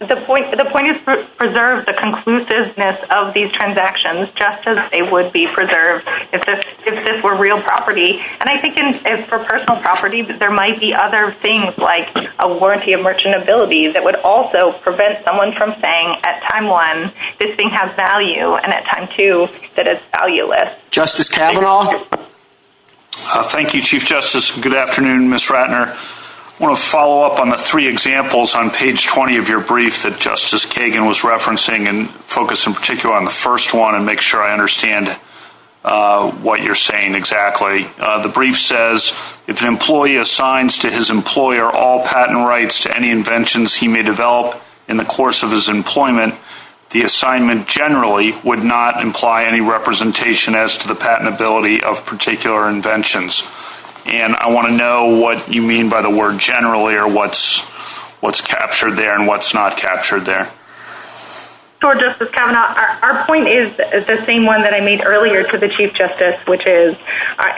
The point, the point is to preserve the conclusiveness of these transactions, just as they would be preserved. If this, if this were real property. And I think it's for personal property, but there might be other things like a warranty of merchantability that would also prevent someone from saying at time one, this thing has value. And at time two, that it's valueless justice. Thank you, chief justice. Good afternoon, miss Ratner. I want to follow up on the three examples on page 20 of your brief that justice Kagan was referencing and focus in particular on the first one and make sure I understand what you're saying. Exactly. The brief says, if an employee assigns to his employer, all patent rights to any inventions he may develop in the course of his employment, the assignment generally would not imply any representation as to the patentability of particular inventions. And I want to know what you mean by the word generally, or what's, what's captured there and what's not captured there. Our point is the same one that I made earlier to the chief justice, which is,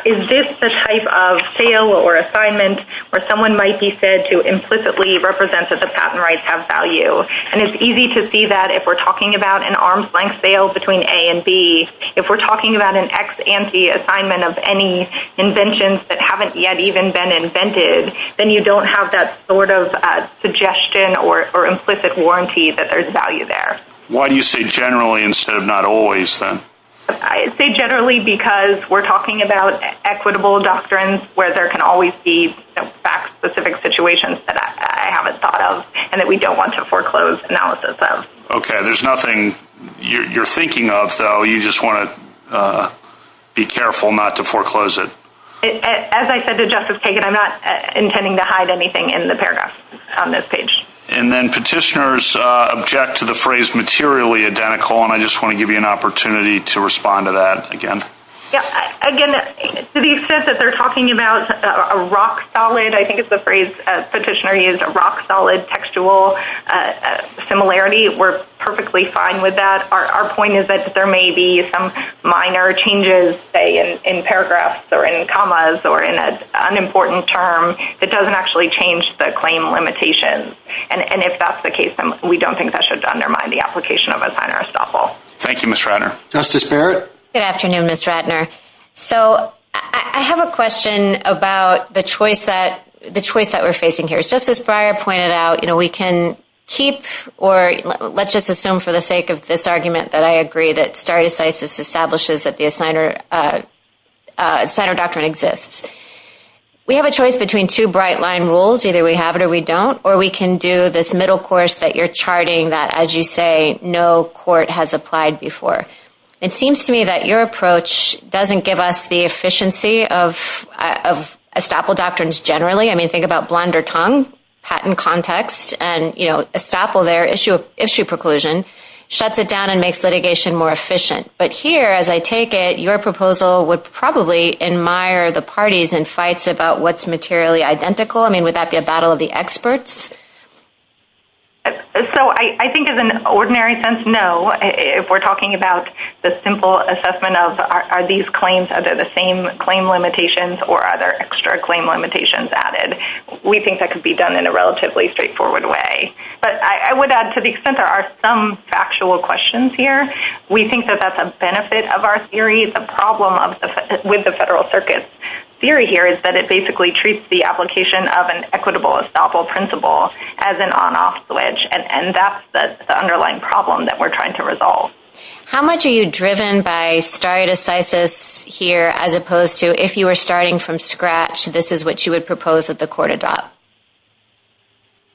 is this the type of sale or assignment where someone might be said to implicitly represent that the patent rights have value. And it's easy to see that if we're talking about an arm's length sale between a and B, if we're talking about an ex ante assignment of any inventions that haven't yet even been invented, then you don't have that sort of suggestion or implicit warranty that there's value there. Why do you say generally, instead of not always then I say generally, because we're talking about equitable doctrines where there can always be specific situations that I haven't thought of and that we don't want to foreclose analysis of. Okay. There's nothing you're thinking of though. You just want to be careful not to foreclose it. As I said to justice, I'm not intending to hide anything in the paragraph on this page. And then petitioners object to the phrase materially identical. And I just want to give you an opportunity to respond to that again. Yeah. Again, the stuff that they're talking about a rock solid, I think it's the phrase petitioner used a rock solid textual similarity. We're perfectly fine with that. Our point is that there may be some minor changes in paragraphs or in commas or in an unimportant term that doesn't actually change the claim limitations. And if that's the case, we don't think that should undermine the application of a signer estoppel. Thank you, Mr. Justice Barrett. Good afternoon, Mr. Ratner. here is just as prior pointed out, you know, we can keep, or let's just assume for the sake of this argument that I agree that stardecisis establishes that the assigner, uh, uh, center document exists. We have a choice between two bright line rules. Either we have it or we don't, or we can do this middle course that you're charting that as you say, no court has applied before. It seems to me that your approach doesn't give us the efficiency of, uh, of estoppel doctrines generally. I mean, if you think about blunder tongue patent context and, you know, a sample, their issue issue preclusion shuts it down and makes litigation more efficient. But here, as I take it, your proposal would probably admire the parties and fights about what's materially identical. I mean, would that be a battle of the experts? So I think as an ordinary sense, no, if we're talking about the simple assessment of our, are these claims under the same claim limitations or other extra claim limitations added, we think that could be done in a relatively straightforward way. But I would add to the extent there are some factual questions here. We think that that's a benefit of our theory. The problem of the, with the federal circuit theory here is that it basically treats the application of an equitable estoppel principle as an on off switch. And, and that's the underlying problem that we're trying to resolve. How much are you driven by stare decisis here, as opposed to if you were starting from scratch, this is what you would propose that the court adopt.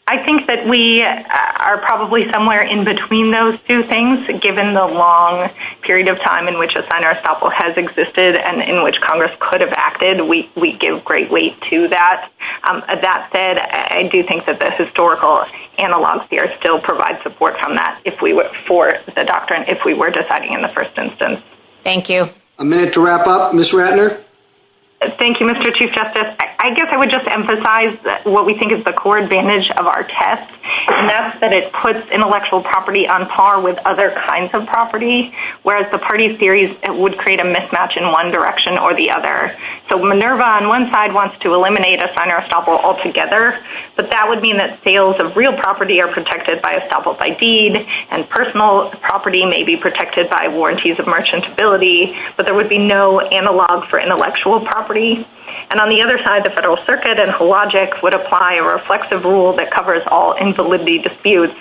I think that we are probably somewhere in between those two things. Given the long period of time in which a signer estoppel has existed and in which Congress could have acted, we give greatly to that. That said, I do think that the historical analogs here still provide support from that. If we were for the doctrine, if we were deciding in the first instance, thank you a minute to wrap up. Thank you, Mr. Chief justice. I guess I would just emphasize what we think is the core advantage of our test. And that's that it puts intellectual property on par with other kinds of property. Whereas the party series, it would create a mismatch in one direction or the other. So Minerva on one side wants to eliminate a signer estoppel altogether, but that would be in that sales of real property are protected by established by deed and personal property may be protected by warranties of merchantability, but there would be no analog for intellectual property. And on the other side of the federal circuit and who logics would apply a reflexive rule that covers all invalidity disputes.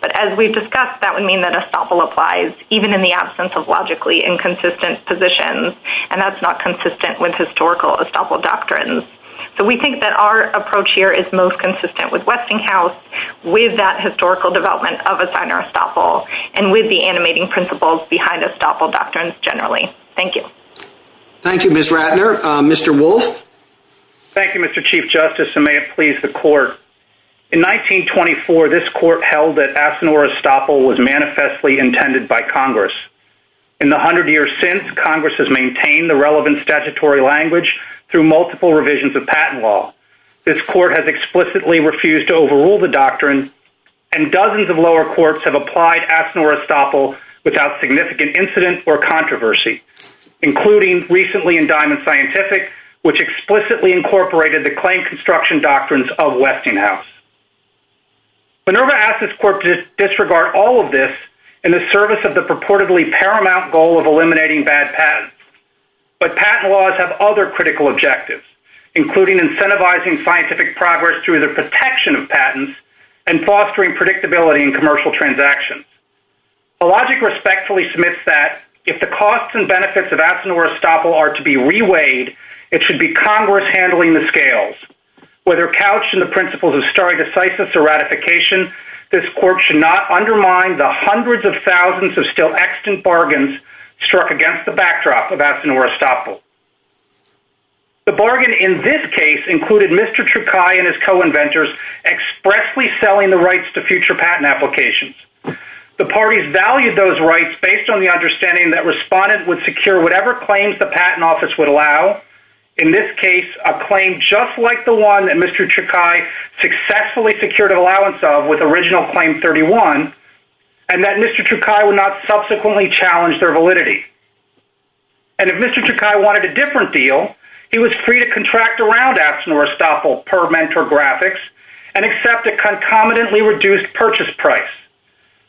But as we've discussed, that would mean that a sample applies even in the absence of logically inconsistent positions. And that's not consistent with historical estoppel doctrines. So we think that our approach here is most consistent with Westinghouse with that historical development of a signer estoppel and with the Thank you. Thank you, miss Ratner, Mr. Wolf. Thank you, Mr. Chief justice. And may it please the court. In 1924, this court held that as an or a stopper was manifestly intended by Congress. In the a hundred years since Congress has maintained the relevant statutory language through multiple revisions of patent law. This court has explicitly refused to overrule the doctrine and dozens of Including recently in diamond scientific, which explicitly incorporated the claim construction doctrines of Westinghouse, but never asked this court to disregard all of this. And the service of the purportedly paramount goal of eliminating bad patents, but patent laws have other critical objectives, including incentivizing scientific progress through the protection of patents and fostering predictability and commercial transactions. The logic respectfully submits that if the costs and benefits of action were to be reweighed, it should be Congress handling the scales, whether couched in the principles of starting a site, just a ratification. This court should not undermine the hundreds of thousands of still extant bargains struck against the backdrop of that. The bargain in this case included Mr. And his co-inventors expressly selling the rights to future patent applications. The parties valued those rights based on the understanding that responded with secure, whatever claims the patent office would allow in this case, a claim just like the one that Mr. Successfully secured an allowance of with original claim 31. And that Mr. Would not subsequently challenge their validity. And if Mr. Wanted a different deal, he was free to contract around apps Norris topple per mentor graphics and accept it. Concomitantly reduced purchase price,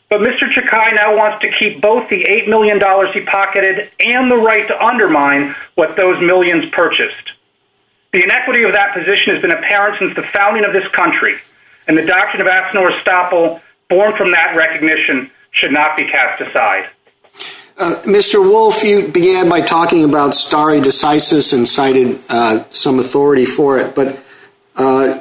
but Mr. Now wants to keep both the $8 million he pocketed and the right to undermine what those millions purchased. The inequity of that position has been apparent since the founding of this country. And the doctrine of apps Norris topple born from that recognition should not be cast aside. Mr. you began by talking about starring decisive and cited some authority for it, but.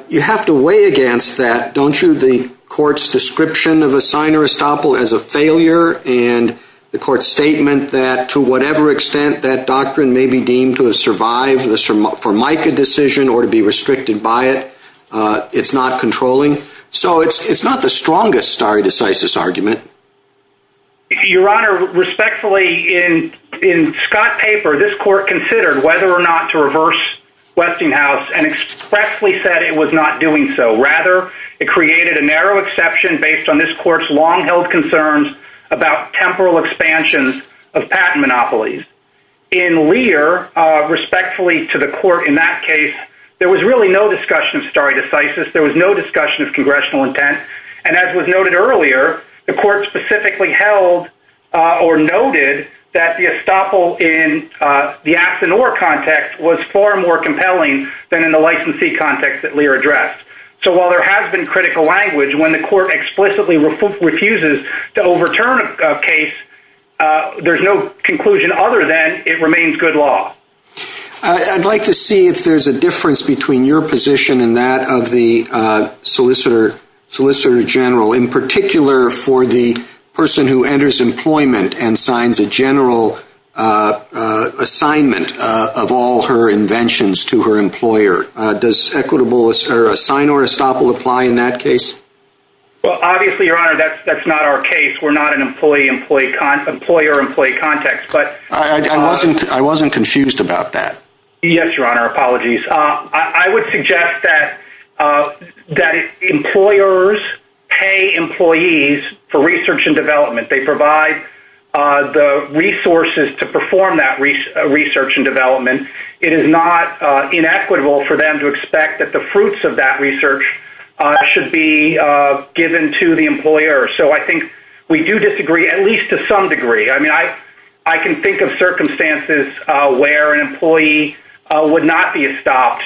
You have to weigh against that. Don't you? The court's description of a signer is topple as a failure and the court statement that to whatever extent that doctrine may be deemed to have survived for Mike, a decision or to be restricted by it. It's not controlling. So it's, it's not the strongest star decisive argument. Your honor respectfully in, in Scott paper, this court considered whether or not to reverse Westinghouse and expressly said it was not doing. So rather it created a narrow exception based on this court's long held concerns about temporal expansions of patent monopolies. And we are respectfully to the court. In that case, there was really no discussion of starry decisive. There was no discussion of congressional intent. And as was noted earlier, the court specifically held or noted that the estoppel in the action or context was far more compelling than in the licensee context that Lear addressed. So while there has been critical language, when the court explicitly refuses to overturn a case, there's no conclusion other than it remains good law. I'd like to see if there's a difference between your position and that of the solicitor solicitor general, in particular for the person who enters employment and signs a general assignment of all her inventions to her employer. Does equitable or a sign or a stop will apply in that case? Well, obviously your honor, that's, that's not our case. We're not an employee employee, employer employee context, but I wasn't, I wasn't confused about that. Yes. Your honor. Apologies. I would suggest that that employers pay employees for research and development. They provide the resources to perform that research and development. It is not inequitable for them to expect that the fruits of that research should be given to the employer. So I think we do disagree at least to some degree. I mean, I, I can think of circumstances where an employee would not be stopped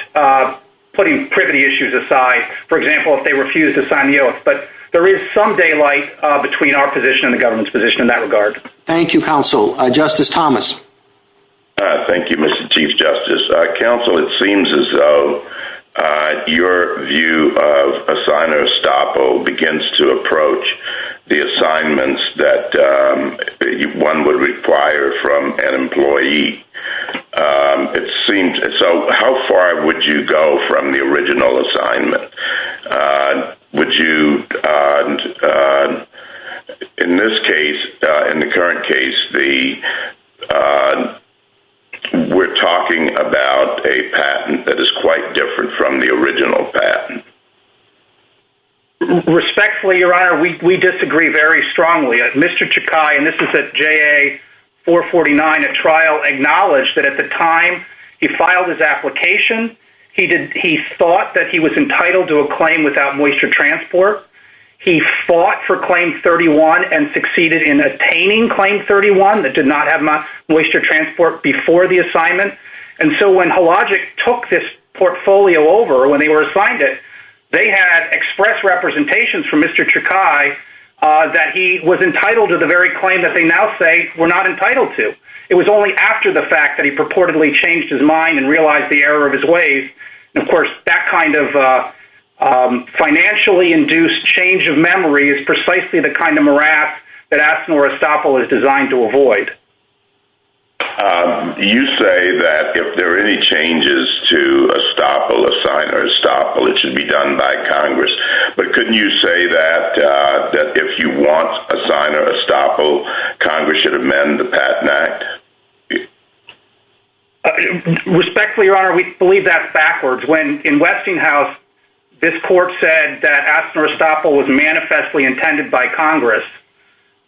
putting privity issues aside, for example, if they refuse to sign the oath, but there is some daylight between our position and the government's position in that regard. Thank you counsel justice Thomas. Thank you, Mr. Chief justice counsel. It seems as though your view of a sign or a stop, or begins to approach the assignments that one would require from an employee. It seems. So how far would you go from the original assignment? Would you, in this case, in the current case, the, we're talking about a patent that is quite different from the original patent. Respectfully, your honor, we, we disagree very strongly. Mr. Chakai, and this is at J a four 49, a trial acknowledged that at the time he filed his application, he did. He thought that he was entitled to a claim without moisture transport. He fought for claim 31 and succeeded in attaining claim 31 that did not have much moisture transport before the assignment. And so when Hologic took this portfolio over, when they were assigned it, they had express representations from Mr. Chakai that he was entitled to the very claim that they now say we're not entitled to. It was only after the fact that he purportedly changed his mind and realized the error of his ways. And of course that kind of a, um, financially induced change of memory is precisely the kind of morass that asked more estoppel is designed to avoid. Um, you say that if there are any changes to a stop, a sign or a stop, it should be done by Congress. But couldn't you say that, uh, that if you want a sign or a stop, oh, Congress should amend the patent act. Respectfully, your honor, we believe that backwards when in Westinghouse, this court said that asked for a stop was manifestly intended by Congress.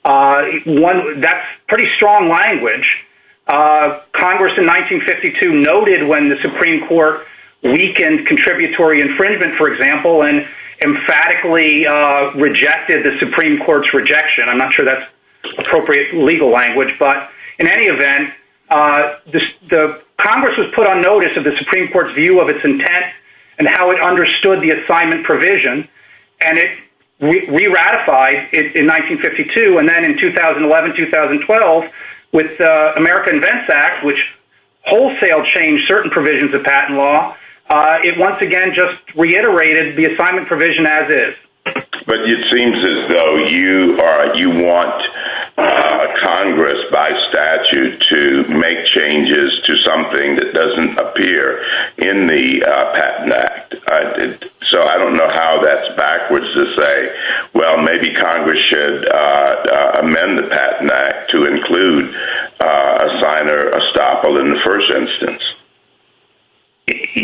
Uh, one, that's pretty strong language. Uh, Congress in 1952 noted when the Supreme court weakened contributory infringement, for example, and emphatically, uh, rejected the Supreme court's rejection. And I'm not sure that's appropriate legal language, but in any event, uh, this, the Congress was put on notice of the Supreme court's view of its intent and how it understood the assignment provision. And it re ratified it in 1952. And then in 2011, 2012 with the American events act, which wholesale change certain provisions of patent law. Uh, it once again, just reiterated the assignment provision as is, but it seems as though you are, you want, uh, Congress by statute to make changes to something that doesn't appear in the patent act. I did. So I don't know how that's backwards to say, well, maybe Congress should, uh, uh, amend the patent act to include a sign or a stop in the first instance.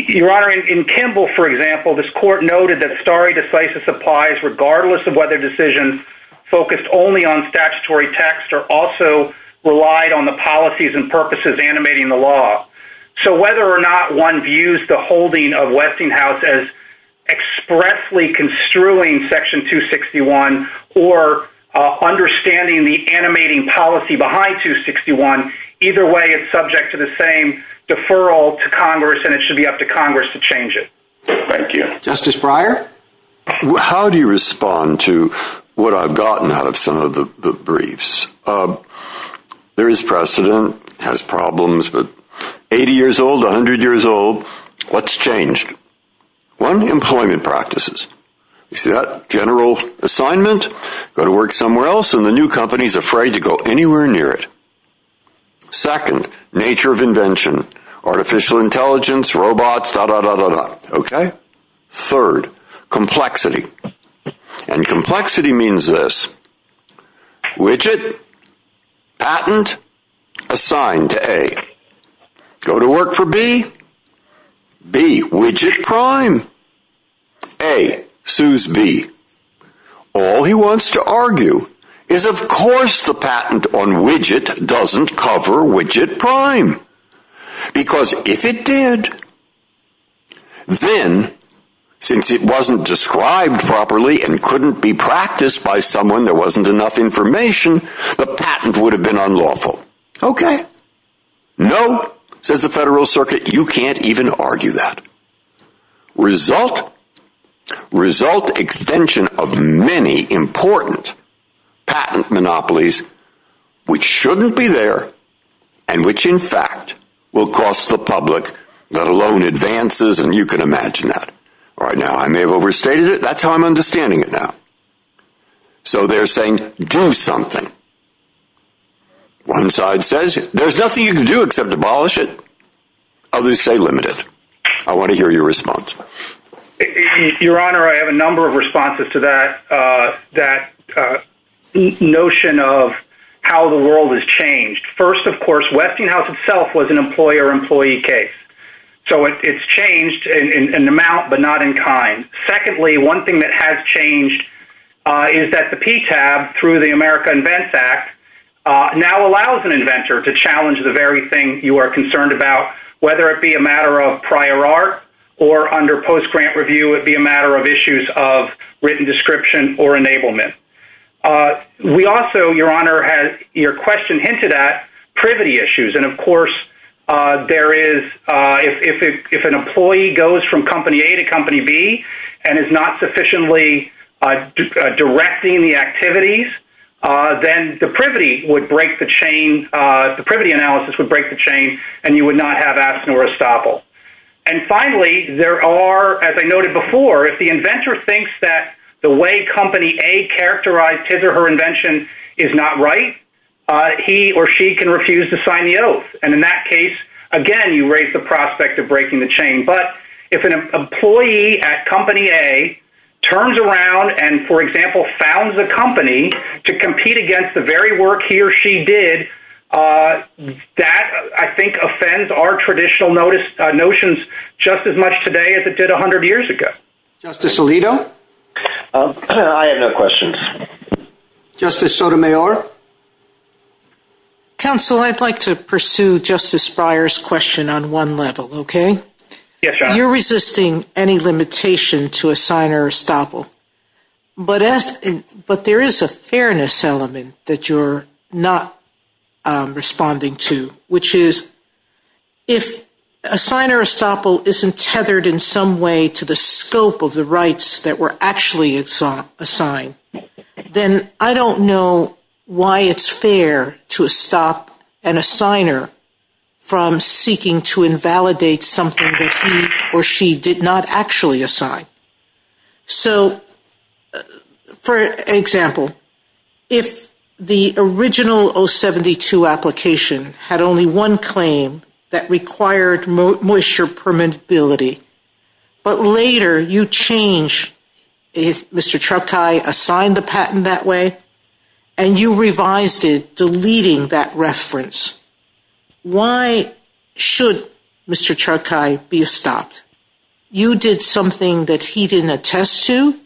Your honor in Kimball, for example, this court noted that starry decisive supplies, regardless of whether decision focused only on statutory texts are also relied on the policies and purposes animating the law. So whether or not one views the holding of Westinghouse as expressly construing section two 61 or, uh, understanding the animating policy behind two 61, either way it's subject to the same deferral to Congress and it should be up to Congress to change it. Thank you. Justice Breyer. How do you respond to what I've gotten out of some of the briefs? Um, there is precedent has problems, but 80 years old, a hundred years old, let's change one employment practices. You see that general assignment go to work somewhere else in the new company is afraid to go anywhere near it. Second nature of invention, artificial intelligence, robots, da, da, da, da, da. Okay. Third complexity and complexity means this widget patent assigned to a go to work for B B widget prime. Hey, Sue's B all he wants to argue is of course the patent on widget doesn't cover widget prime because if it did, then since it wasn't described properly and couldn't be practiced by someone, there wasn't enough information. The patent would have been unlawful. Okay. No, says the federal circuit. You can't even argue that result, result extension of many important patent monopolies, which shouldn't be there and which in fact will cost the public, let alone advances. And you can imagine that right now I may have overstated it. That's how I'm understanding it now. So they're saying do something. One side says there's nothing you can do except abolish it. Others say limited. I want to hear your response. Your honor. I have a number of responses to that. Uh, that, uh, the notion of how the world has changed. First, of course, Westinghouse itself was an employer employee case. So it's changed in an amount, but not in kind. Secondly, one thing that has changed, uh, is that the P tab through the America invents act, uh, now allows an inventor to challenge the very thing you are concerned about, whether it be a matter of prior art or under post-grant review, it'd be a matter of issues of written description or enablement. Uh, we also, your honor has your question hinted at privity issues. And of course, uh, there is, uh, if, if, if an employee goes from company A to company B and is not sufficiently, uh, uh, directing the activities, uh, then the privity would break the chain. Uh, the privity analysis would break the chain and you would not have asked nor estoppel. And finally, there are, as I noted before, if the inventor thinks that the way company a characterized his or her invention is not right, uh, he or she can refuse to sign the oath. And in that case, again, you raise the prospect of breaking the chain. But if an employee at company a turns around and for example, found the company to compete against the very work he or she did, uh, that I think offends our traditional notice, uh, notions just as much today as it did a hundred years ago. Justice Alito. I have no questions. Justice Sotomayor. Counsel, I'd like to pursue justice Breyer's question on one level. Okay. You're resisting any limitation to a sign or estoppel, but as, but there is a fairness element that you're not, um, responding to, which is if a sign or estoppel isn't tethered in some way to the scope of the rights that were actually it's a sign, then I don't know why it's fair to a stop and a signer from seeking to invalidate something or she did not actually assign. So for example, if the original Oh 72 application had only one claim that required moisture permittability, but later you change if Mr. Truckeye assigned the patent that way and you revised it, deleting that reference. Why should Mr. Truckeye be stopped? You did something that he didn't attest to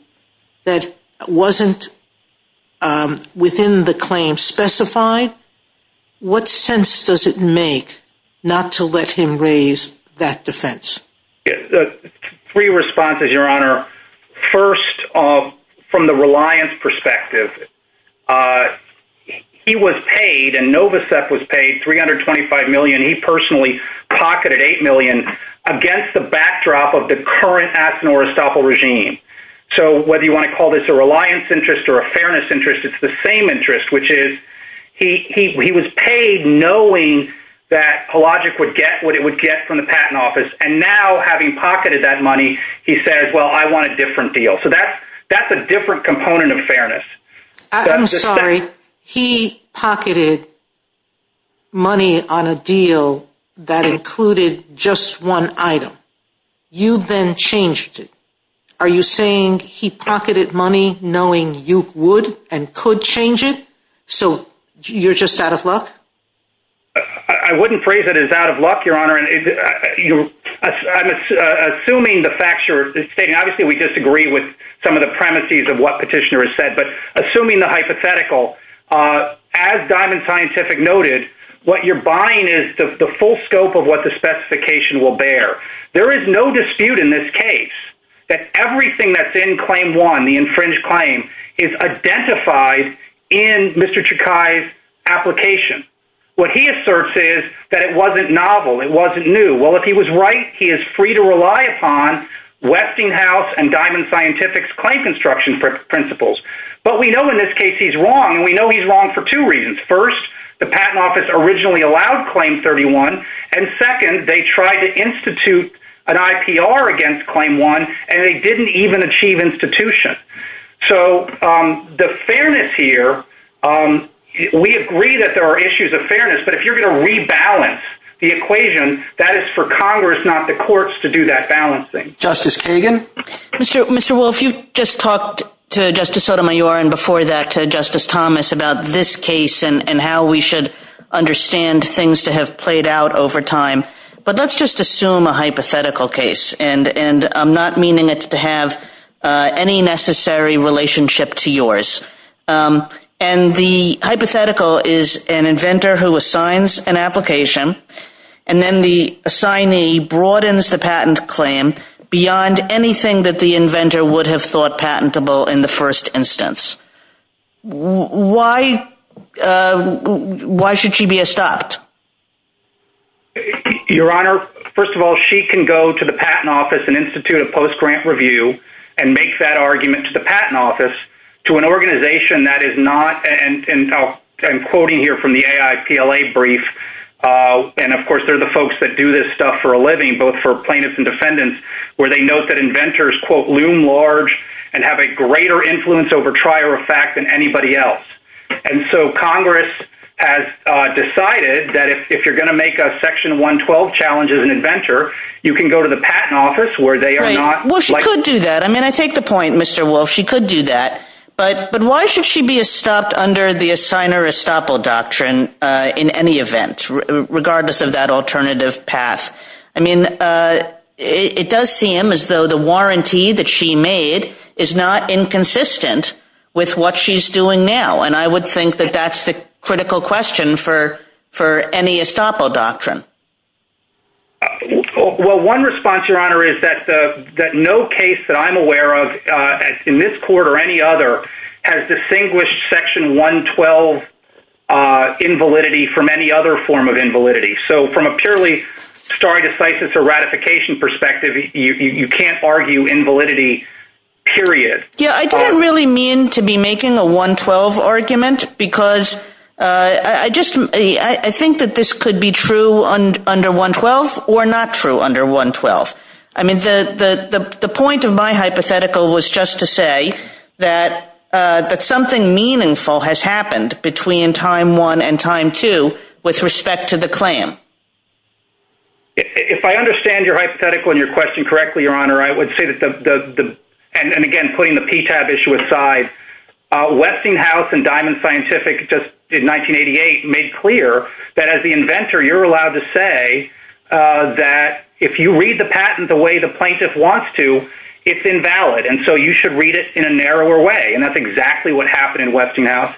that wasn't, um, within the claim specified. What sense does it make not to let him raise that defense? Yeah. Three responses, your honor. First off, from the reliance perspective, uh, he was paid and Nova step was paid 325 million. He personally pocketed 8 million against the backdrop of the current ethanol or estoppel regime. So whether you want to call this a reliance interest or a fairness interest, it's the same interest, which is he, he, he was paid knowing that logic would get what it would get from the patent office. And now having pocketed that money, he says, well, I want a different deal. So that's, that's a different component of fairness. I'm sorry. He pocketed money on a deal that included just one item. You've been changed. Are you saying he pocketed money knowing you would and could change it? So you're just out of luck. I wouldn't phrase it as out of luck, your honor. And you, I'm assuming the facture is saying, obviously we disagree with some of the premises of what petitioner has said, but assuming the hypothetical, uh, as diamond scientific noted, what you're buying is the full scope of what the specification will bear. There is no dispute in this case that everything that's in claim one, the infringed claim is identified in Mr. Chakai's application. What he asserts is that it wasn't novel. It wasn't new. Well, if he was right, he is free to rely upon Westinghouse and diamond scientific claim construction principles. But we know in this case, he's wrong. And we know he's wrong for two reasons. First, the patent office originally allowed claim 31. And second, they tried to institute an IPR against claim one and they didn't even achieve institution. So, um, the fairness here, um, we agree that there are issues of fairness, but if you're going to rebalance the equation that is for Congress, not the courts to do that balancing justice. Mr. Wolf, you just talked to justice Sotomayor. And before that to justice Thomas about this case and how we should understand things to have played out over time. But let's just assume a hypothetical case and, and I'm not meaning it to have any necessary relationship to yours. Um, and the hypothetical is an inventor who assigns an application and then the assignee broadens the patent claim beyond anything that the inventor would have thought patentable in the first instance. Why, why should she be a stopped your honor? First of all, she can go to the patent office and Institute of post-grant review and make that argument to the patent office, to an organization that is not, and I'm quoting here from the AIPLA brief. Uh, and of course there are the folks that do this stuff for a living, both for plaintiffs and defendants, where they know that inventors quote loom large and have a greater influence over trial or fact than anybody else. And so Congress has decided that if, if you're going to make a section one 12 challenges and inventor, you can go to the patent office where they are not. Well, she could do that. I mean, I think the point, Mr. Wolf, she could do that, but, but why should she be a stopped under the assigner estoppel doctrine in any event, regardless of that alternative path. I mean, uh, it does seem as though the warranty that she made is not inconsistent with what she's doing now. And I would think that that's the critical question for, for any estoppel doctrine. Well, one response your honor is that the, that no case that I'm aware of in this court or any other has distinguished section one 12, uh, invalidity from any other form of invalidity. So from a purely sorry to say it's a ratification perspective, you can't argue invalidity period. Yeah. I don't really mean to be making a one 12 argument because, uh, I just, uh, I think that this could be true on under one 12 or not true under one 12. I mean, the, the, the, the point of my hypothetical was just to say that, uh, that something meaningful has happened between time one and time two with respect to the claim. If I understand your hypothetical and your question correctly, your honor, I would say that the, the, the, and again, putting the PTAB issue aside, uh, Westinghouse and diamond scientific just did 1988 made clear that as the inventor, you're allowed to say, uh, that if you read the patent the way the plaintiff wants to, it's invalid. And so you should read it in a narrower way. And that's exactly what happened in Westinghouse,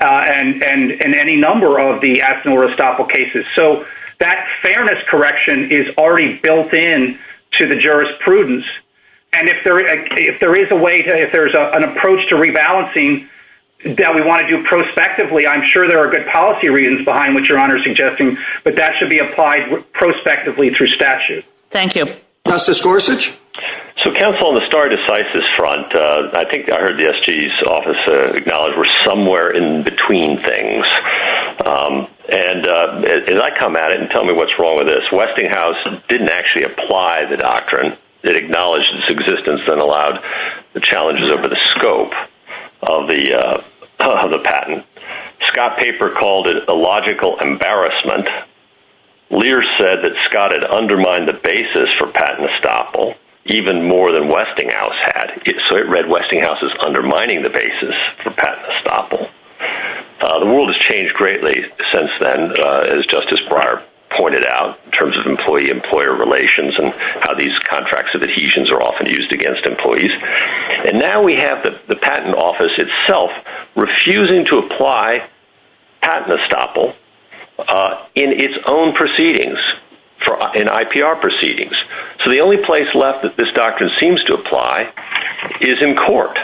uh, and, and, and any number of the ethanol restopel cases. And if there, if there is a way to, if there's an approach to rebalancing that we want to do prospectively, I'm sure there are good policy reasons behind what your honor is suggesting, but that should be applied prospectively through statute. Thank you. So council on the start of sites, this front, uh, I think I heard the SG's office, uh, God was somewhere in between things. Um, and, uh, as I come at it and tell me what's wrong with this, Westinghouse didn't actually apply the doctrine that acknowledged its existence and allowed the challenges of the scope of the, uh, of the patent Scott paper called it a logical embarrassment. Lear said that Scott had undermined the basis for patent estoppel even more than Westinghouse had. So it read Westinghouse is undermining the basis for patent estoppel. Uh, the world has changed greatly since then, uh, as justice prior pointed out, in terms of employee, employer relations and how these contracts of adhesions are often used against employees. And now we have the patent office itself, refusing to apply patent estoppel, uh, in its own proceedings for an IPR proceedings. So the only place left that this doctor seems to apply is in court.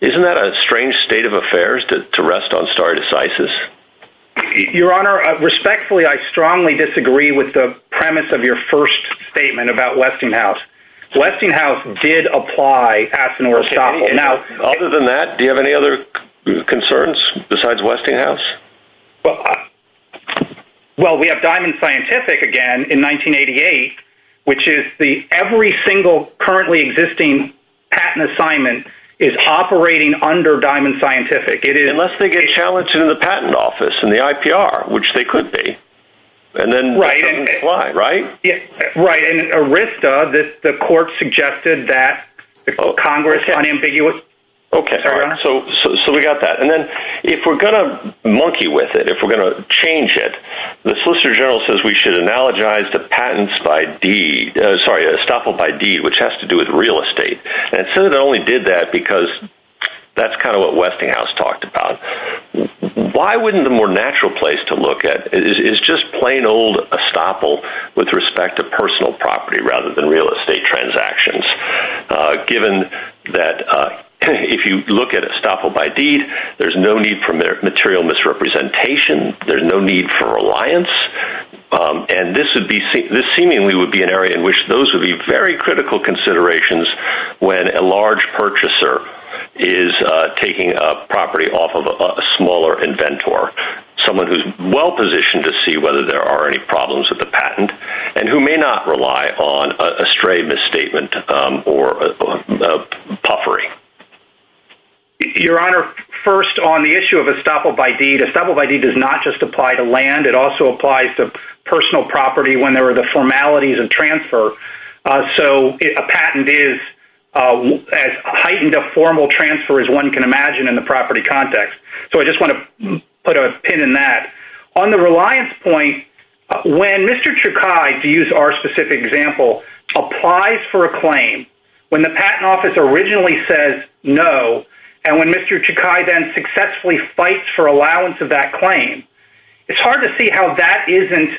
Isn't that a strange state of affairs to, to rest on started as ISIS. Your honor respectfully, I strongly disagree with the premise of your first statement about Westinghouse. Westinghouse did apply. Other than that, do you have any other concerns besides Westinghouse? Well, we have diamond scientific again in 1988, which is the every single currently existing patent assignment is operating under diamond scientific. Unless they get challenged in the patent office and the IPR, which they could be. And then right. Right. Right. And Arista that the court suggested that the Congress on ambiguous. Okay. So, so, so we got that. And then if we're going to monkey with it, if we're going to change it, the solicitor general says we should analogize the patents by deed, uh, sorry, uh, estoppel by deed, which has to do with real estate. And so they only did that because that's kind of what Westinghouse talked about. Why wouldn't the more natural place to look at is, is just plain old estoppel with respect to personal property rather than real estate transactions, uh, given that, uh, if you look at estoppel by deed, there's no need for material misrepresentation. There's no need for reliance. Um, and this would be, this seemingly would be an area in which those would be very critical considerations when a large purchaser is, uh, taking a property off of a smaller inventor, someone who's well positioned to see whether there are any problems with the patent and who may not rely on a stray misstatement, um, or, uh, uh, puffery. Your honor first on the issue of estoppel by deed, estoppel by deed does not just apply to land. It also applies to personal property when there were the formalities of transfer. Uh, so a patent is, uh, as heightened a formal transfer as one can imagine in the property context. So I just want to put a pin in that on the reliance point. When Mr. Chakai to use our specific example applies for a claim when the patent office originally says no. And when Mr. Chakai then successfully fights for allowance of that claim, it's hard to see how that isn't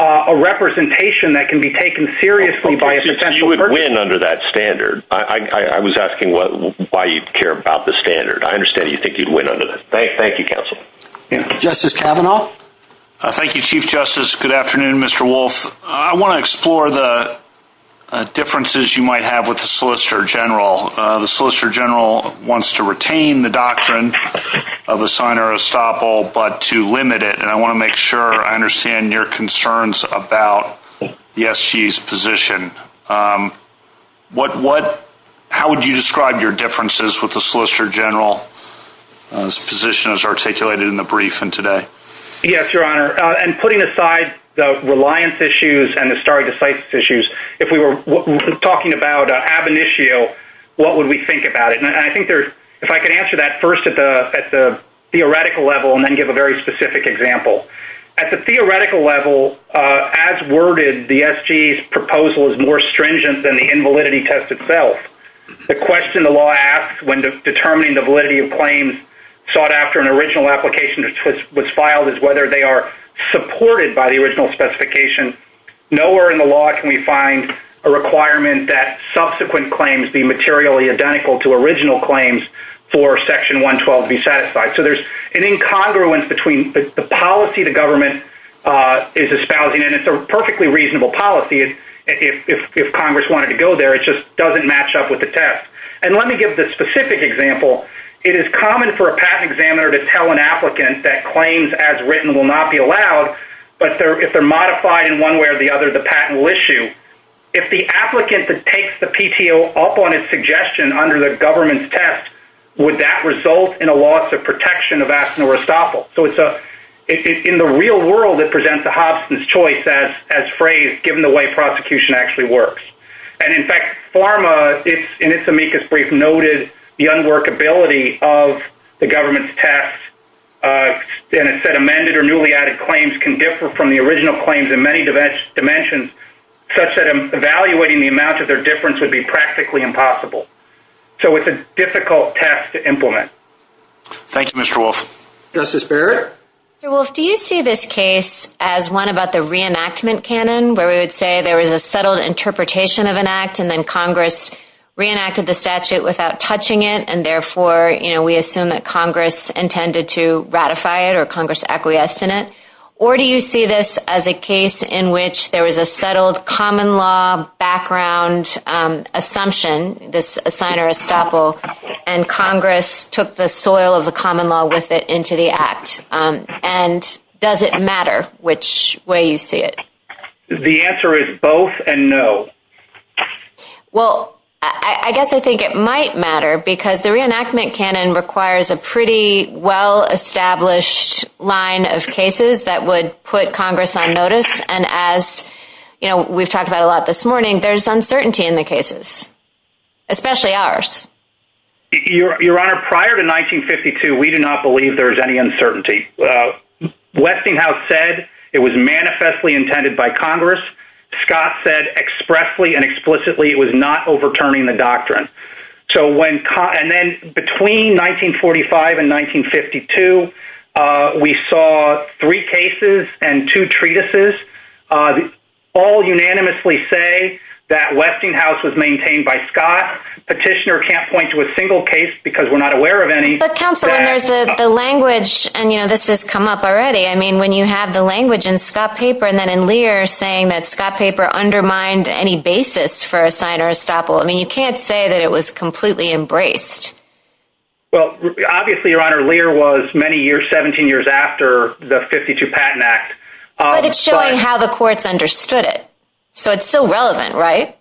a representation that can be taken seriously under that standard. I, I, I was asking what, why you care about the standard? I understand you think you'd win on it. Thank you. Thank you. Counsel. Justice Kavanaugh. Thank you, chief justice. Good afternoon, Mr. Wolf. I want to explore the differences you might have with the solicitor general. Uh, the solicitor general wants to retain the doctrine of a sign or estoppel, but to limit it. And I want to make sure I understand your concerns about yes, she's position. Um, what, what, how would you describe your differences with the solicitor general position as articulated in the brief and today? Yes, your honor. Uh, and putting aside the reliance issues and the start of the sites issues. If we were talking about an issue, what would we think about it? And I think there's, if I could answer that first at the theoretical level and then give a very specific example at the theoretical level, uh, as worded the SG proposal is more stringent than the invalidity test itself. The question, the law asks when determining the validity of claims sought after an original application was filed as whether they are supported by the original specification. Nowhere in the law can we find a requirement that subsequent claims be materially identical to original claims for section one, 12, be satisfied. So there's an incongruence between the policy, the government, uh, is espousing, and it's a perfectly reasonable policy. If Congress wanted to go there, it just doesn't match up with the test. And let me give the specific example. It is common for a patent examiner to tell an applicant that claims as written will not be allowed, but they're, if they're modified in one way or the other, the patent will issue. If the applicant that takes the PTO up on his suggestion under the government's test, would that result in a loss of protection of asthma or estoppel? So it's a, it's in the real world that presents the Hobson's choice as, as phrase, given the way prosecution actually works. And in fact, pharma it's in its amicus brief noted the unworkability of the government's test. Uh, and it said amended or newly added claims can differ from the original claims in many dimensions, such that I'm evaluating the amount of their difference would be practically impossible. So it's a difficult test to implement. Thank you, Mr. Wolf. Justice Barrett. So Wolf, do you see this case as one about the reenactment canon where we would say there was a settled interpretation of an act and then Congress reenacted the statute without touching it. And therefore, you know, we assume that Congress intended to ratify it or Congress acquiesce in it. Or do you see this as a case in which there was a settled common law background, um, assumption, this assigner estoppel and Congress took the soil of the common law with it into the act. Um, and does it matter which way you see it? The answer is both and no. Well, I guess I think it might matter because the reenactment canon requires a pretty well established line of cases that would put Congress on notice. And as you know, we've talked about a lot this morning, there's uncertainty in the cases, especially ours. Your honor, prior to 1952, we do not believe there's any uncertainty. Westinghouse said it was manifestly intended by Congress. Scott said expressly and explicitly, it was not overturning the doctrine. So when, and then between 1945 and 1952, uh, we saw three cases and two treatises, uh, all unanimously say that Westinghouse was maintained by Scott petitioner. Can't point to a single case because we're not aware of any, the language and you know, this has come up already. I mean, when you have the language and Scott paper, and then in Lear saying that Scott paper undermined any basis for a signer estoppel, I mean, you can't say that it was completely embraced. Well, obviously your honor, Lear was many years, 17 years after the 52 patent act. But it's showing how the courts understood it. So it's still relevant, right?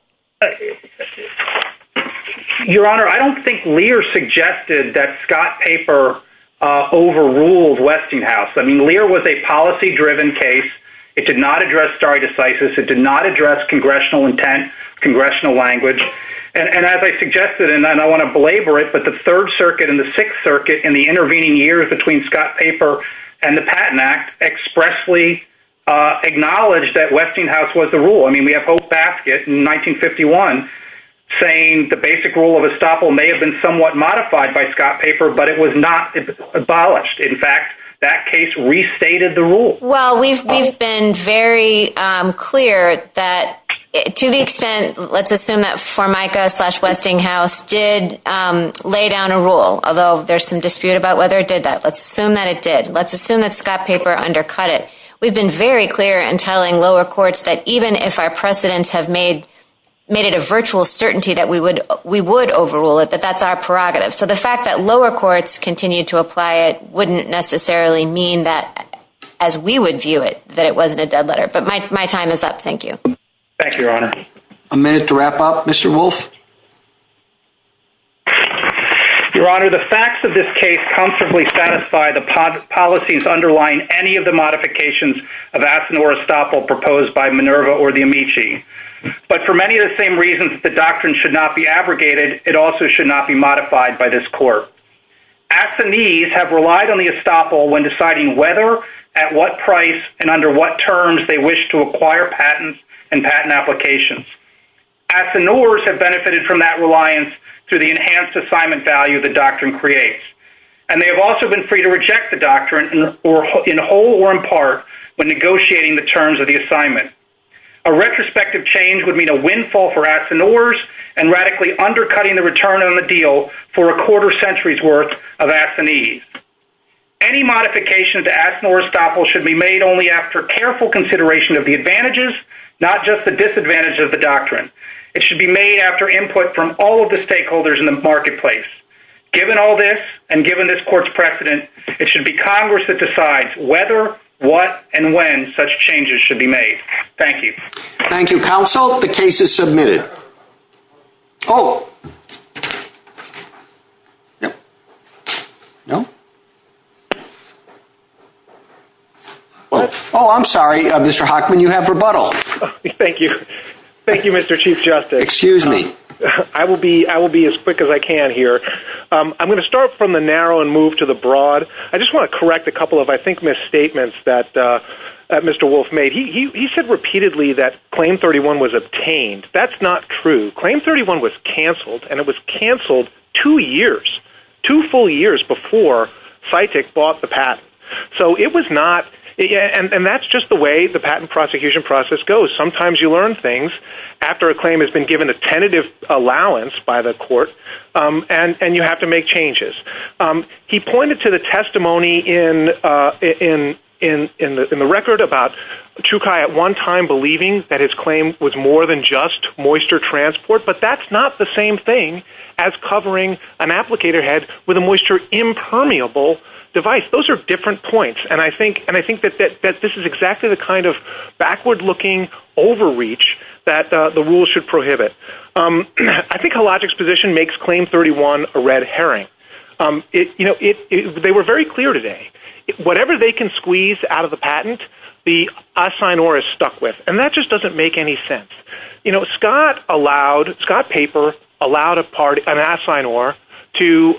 Your honor, I don't think Lear suggested that Scott paper, uh, overruled Westinghouse. I mean, Lear was a policy driven case. It did not address star decisive. It did not address congressional intent, congressional language. And as I suggested, and I don't want to belabor it, but the third circuit and the sixth circuit and the intervening years between Scott paper and the patent act expressly, uh, acknowledge that Westinghouse was the rule. I mean, we have hope basket in 1951 saying the basic rule of estoppel may have been somewhat modified by Scott paper, but it was not abolished. In fact, that case restated the rule. Well, we've, we've been very clear that to the extent, let's assume that for micro slash Westinghouse did, um, lay down a rule, although there's some dispute about whether it did that, let's assume that it did, let's assume that Scott paper undercut it. We've been very clear and telling lower courts that even if our precedents have made, made it a virtual certainty that we would, we would overrule it, but that's our prerogative. So the fact that lower courts continue to apply it wouldn't necessarily mean that as we would view it, that it wasn't a dead letter, but my, my time is up. Thank you. Thank you, your honor. A minute to wrap up. Mr. Wolf. Your honor, the facts of this case comfortably satisfy the policies underlying any of the modifications of Aspen or estoppel proposed by Minerva or the Amici. But for many of the same reasons, the doctrine should not be abrogated. It also should not be modified by this court. At the knees have relied on the estoppel when deciding whether at what price and under what terms they wish to acquire patents and patent applications at the Norris have benefited from that reliance to the enhanced assignment value, the doctrine creates, and they have also been free to reject the doctrine or in whole or in part when negotiating the terms of the assignment, a retrospective change would mean a windfall for Aspen ors and radically undercutting the return on the deal for a quarter centuries worth of Aspen ease. Any modification to ask Norris topple should be made only after careful consideration of the advantages, not just the disadvantage of the doctrine. It should be made after input from all of the stakeholders in the marketplace. Given all this and given this court's precedent, it should be Congress that decides whether what and when such changes should be made. Thank you. Thank you. Counsel. The case is submitted. Oh, no, no. Oh, I'm sorry. Mr. Hockman, you have rebuttal. Thank you. Thank you, Mr. Chief Justice. Excuse me. I will be, I will be as quick as I can here. I'm going to start from the narrow and move to the broad. I just want to correct a couple of, I think, misstatements that Mr. Wolf made. He said repeatedly that claim 31 was obtained. That's not true. Claim 31 was canceled and it was canceled two years, two full years before psychic bought the patent. So it was not. And that's just the way the patent prosecution process goes. Sometimes you learn things after a claim has been given a tentative allowance by the court. And, and you have to make changes. He pointed to the testimony in, in, in, in the, in the record about two Chi at one time, believing that his claim was more than just moisture transport, but that's not the same thing as covering an applicator head with a moisture impermeable device. Those are different points. And I think, and I think that, that, that this is exactly the kind of backward looking overreach that the rules should prohibit. I think a logic's position makes claim 31 a red Herring. It, you know, it, they were very clear today, whatever they can squeeze out of the patent, the assign or is stuck with. And that just doesn't make any sense. You know, Scott allowed Scott paper allowed a party and assign or to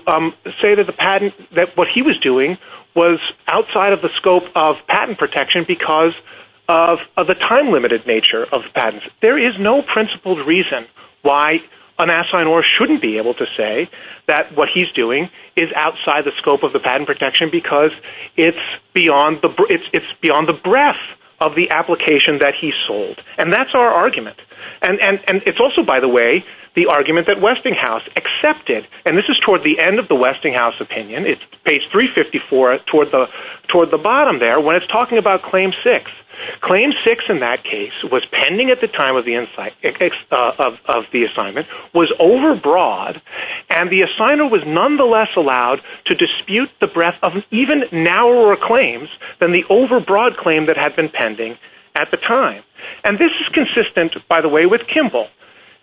say that the patent, that what he was doing was outside of the scope of patent protection because of the time limited nature of patents. There is no principled reason why an assign or shouldn't be able to say that what he's doing is outside the scope of the patent protection, because it's beyond the, it's beyond the breadth of the application that he sold. And that's our argument. And, and, and it's also, by the way, the argument that Westinghouse accepted, and this is toward the end of the Westinghouse opinion. It's page three 54 toward the, toward the bottom there. When it's talking about claim six, claim six in that case was pending at the time of the insight of the assignment was overbroad. And the assigner was nonetheless allowed to dispute the breadth of even narrower claims than the overbroad claim that had been pending at the time. And this is consistent by the way, with Kimball,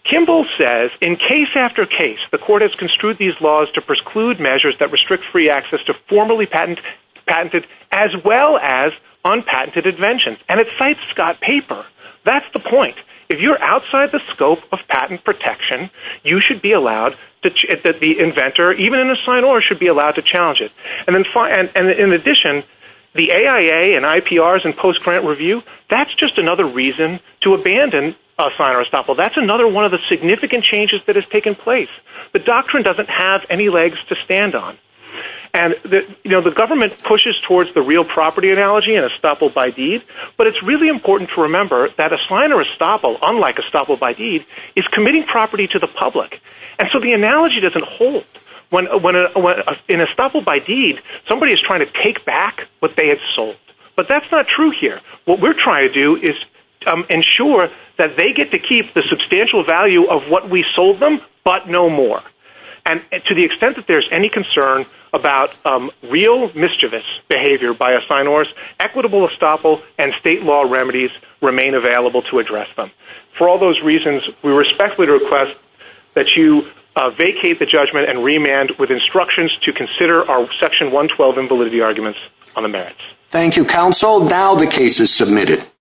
Kimball says in case after case, the court has construed these laws to preclude measures that restrict free access to formally patent patented, as well as on patented inventions. And it cites Scott paper. That's the point. If you're outside the scope of patent protection, you should be allowed to, that the inventor even in the sign or should be allowed to challenge it. And then in addition, the AIA and IPRs and post-grant review, that's just another reason to abandon a sign or a stopper. That's another one of the significant changes that has taken place, but doctrine doesn't have any legs to stand on. And the, you know, the government pushes towards the real property analogy and a stopper by deed, but it's really important to remember that a sign or a stopper, unlike a stopper by deed is committing property to the public. And so the analogy doesn't hold when, when, when in a stopper by deed, somebody is trying to take back what they had sold, but that's not true here. What we're trying to do is ensure that they get to keep the substantial value of what we sold them, but no more. And to the extent that there's any concern about real mischievous behavior by a sign or equitable estoppel and state law remedies remain available to address them. For all those reasons, we respectfully request that you vacate the judgment and remand with instructions to consider our section one 12 and validity arguments on the merits. Thank you counsel. Now the case is submitted.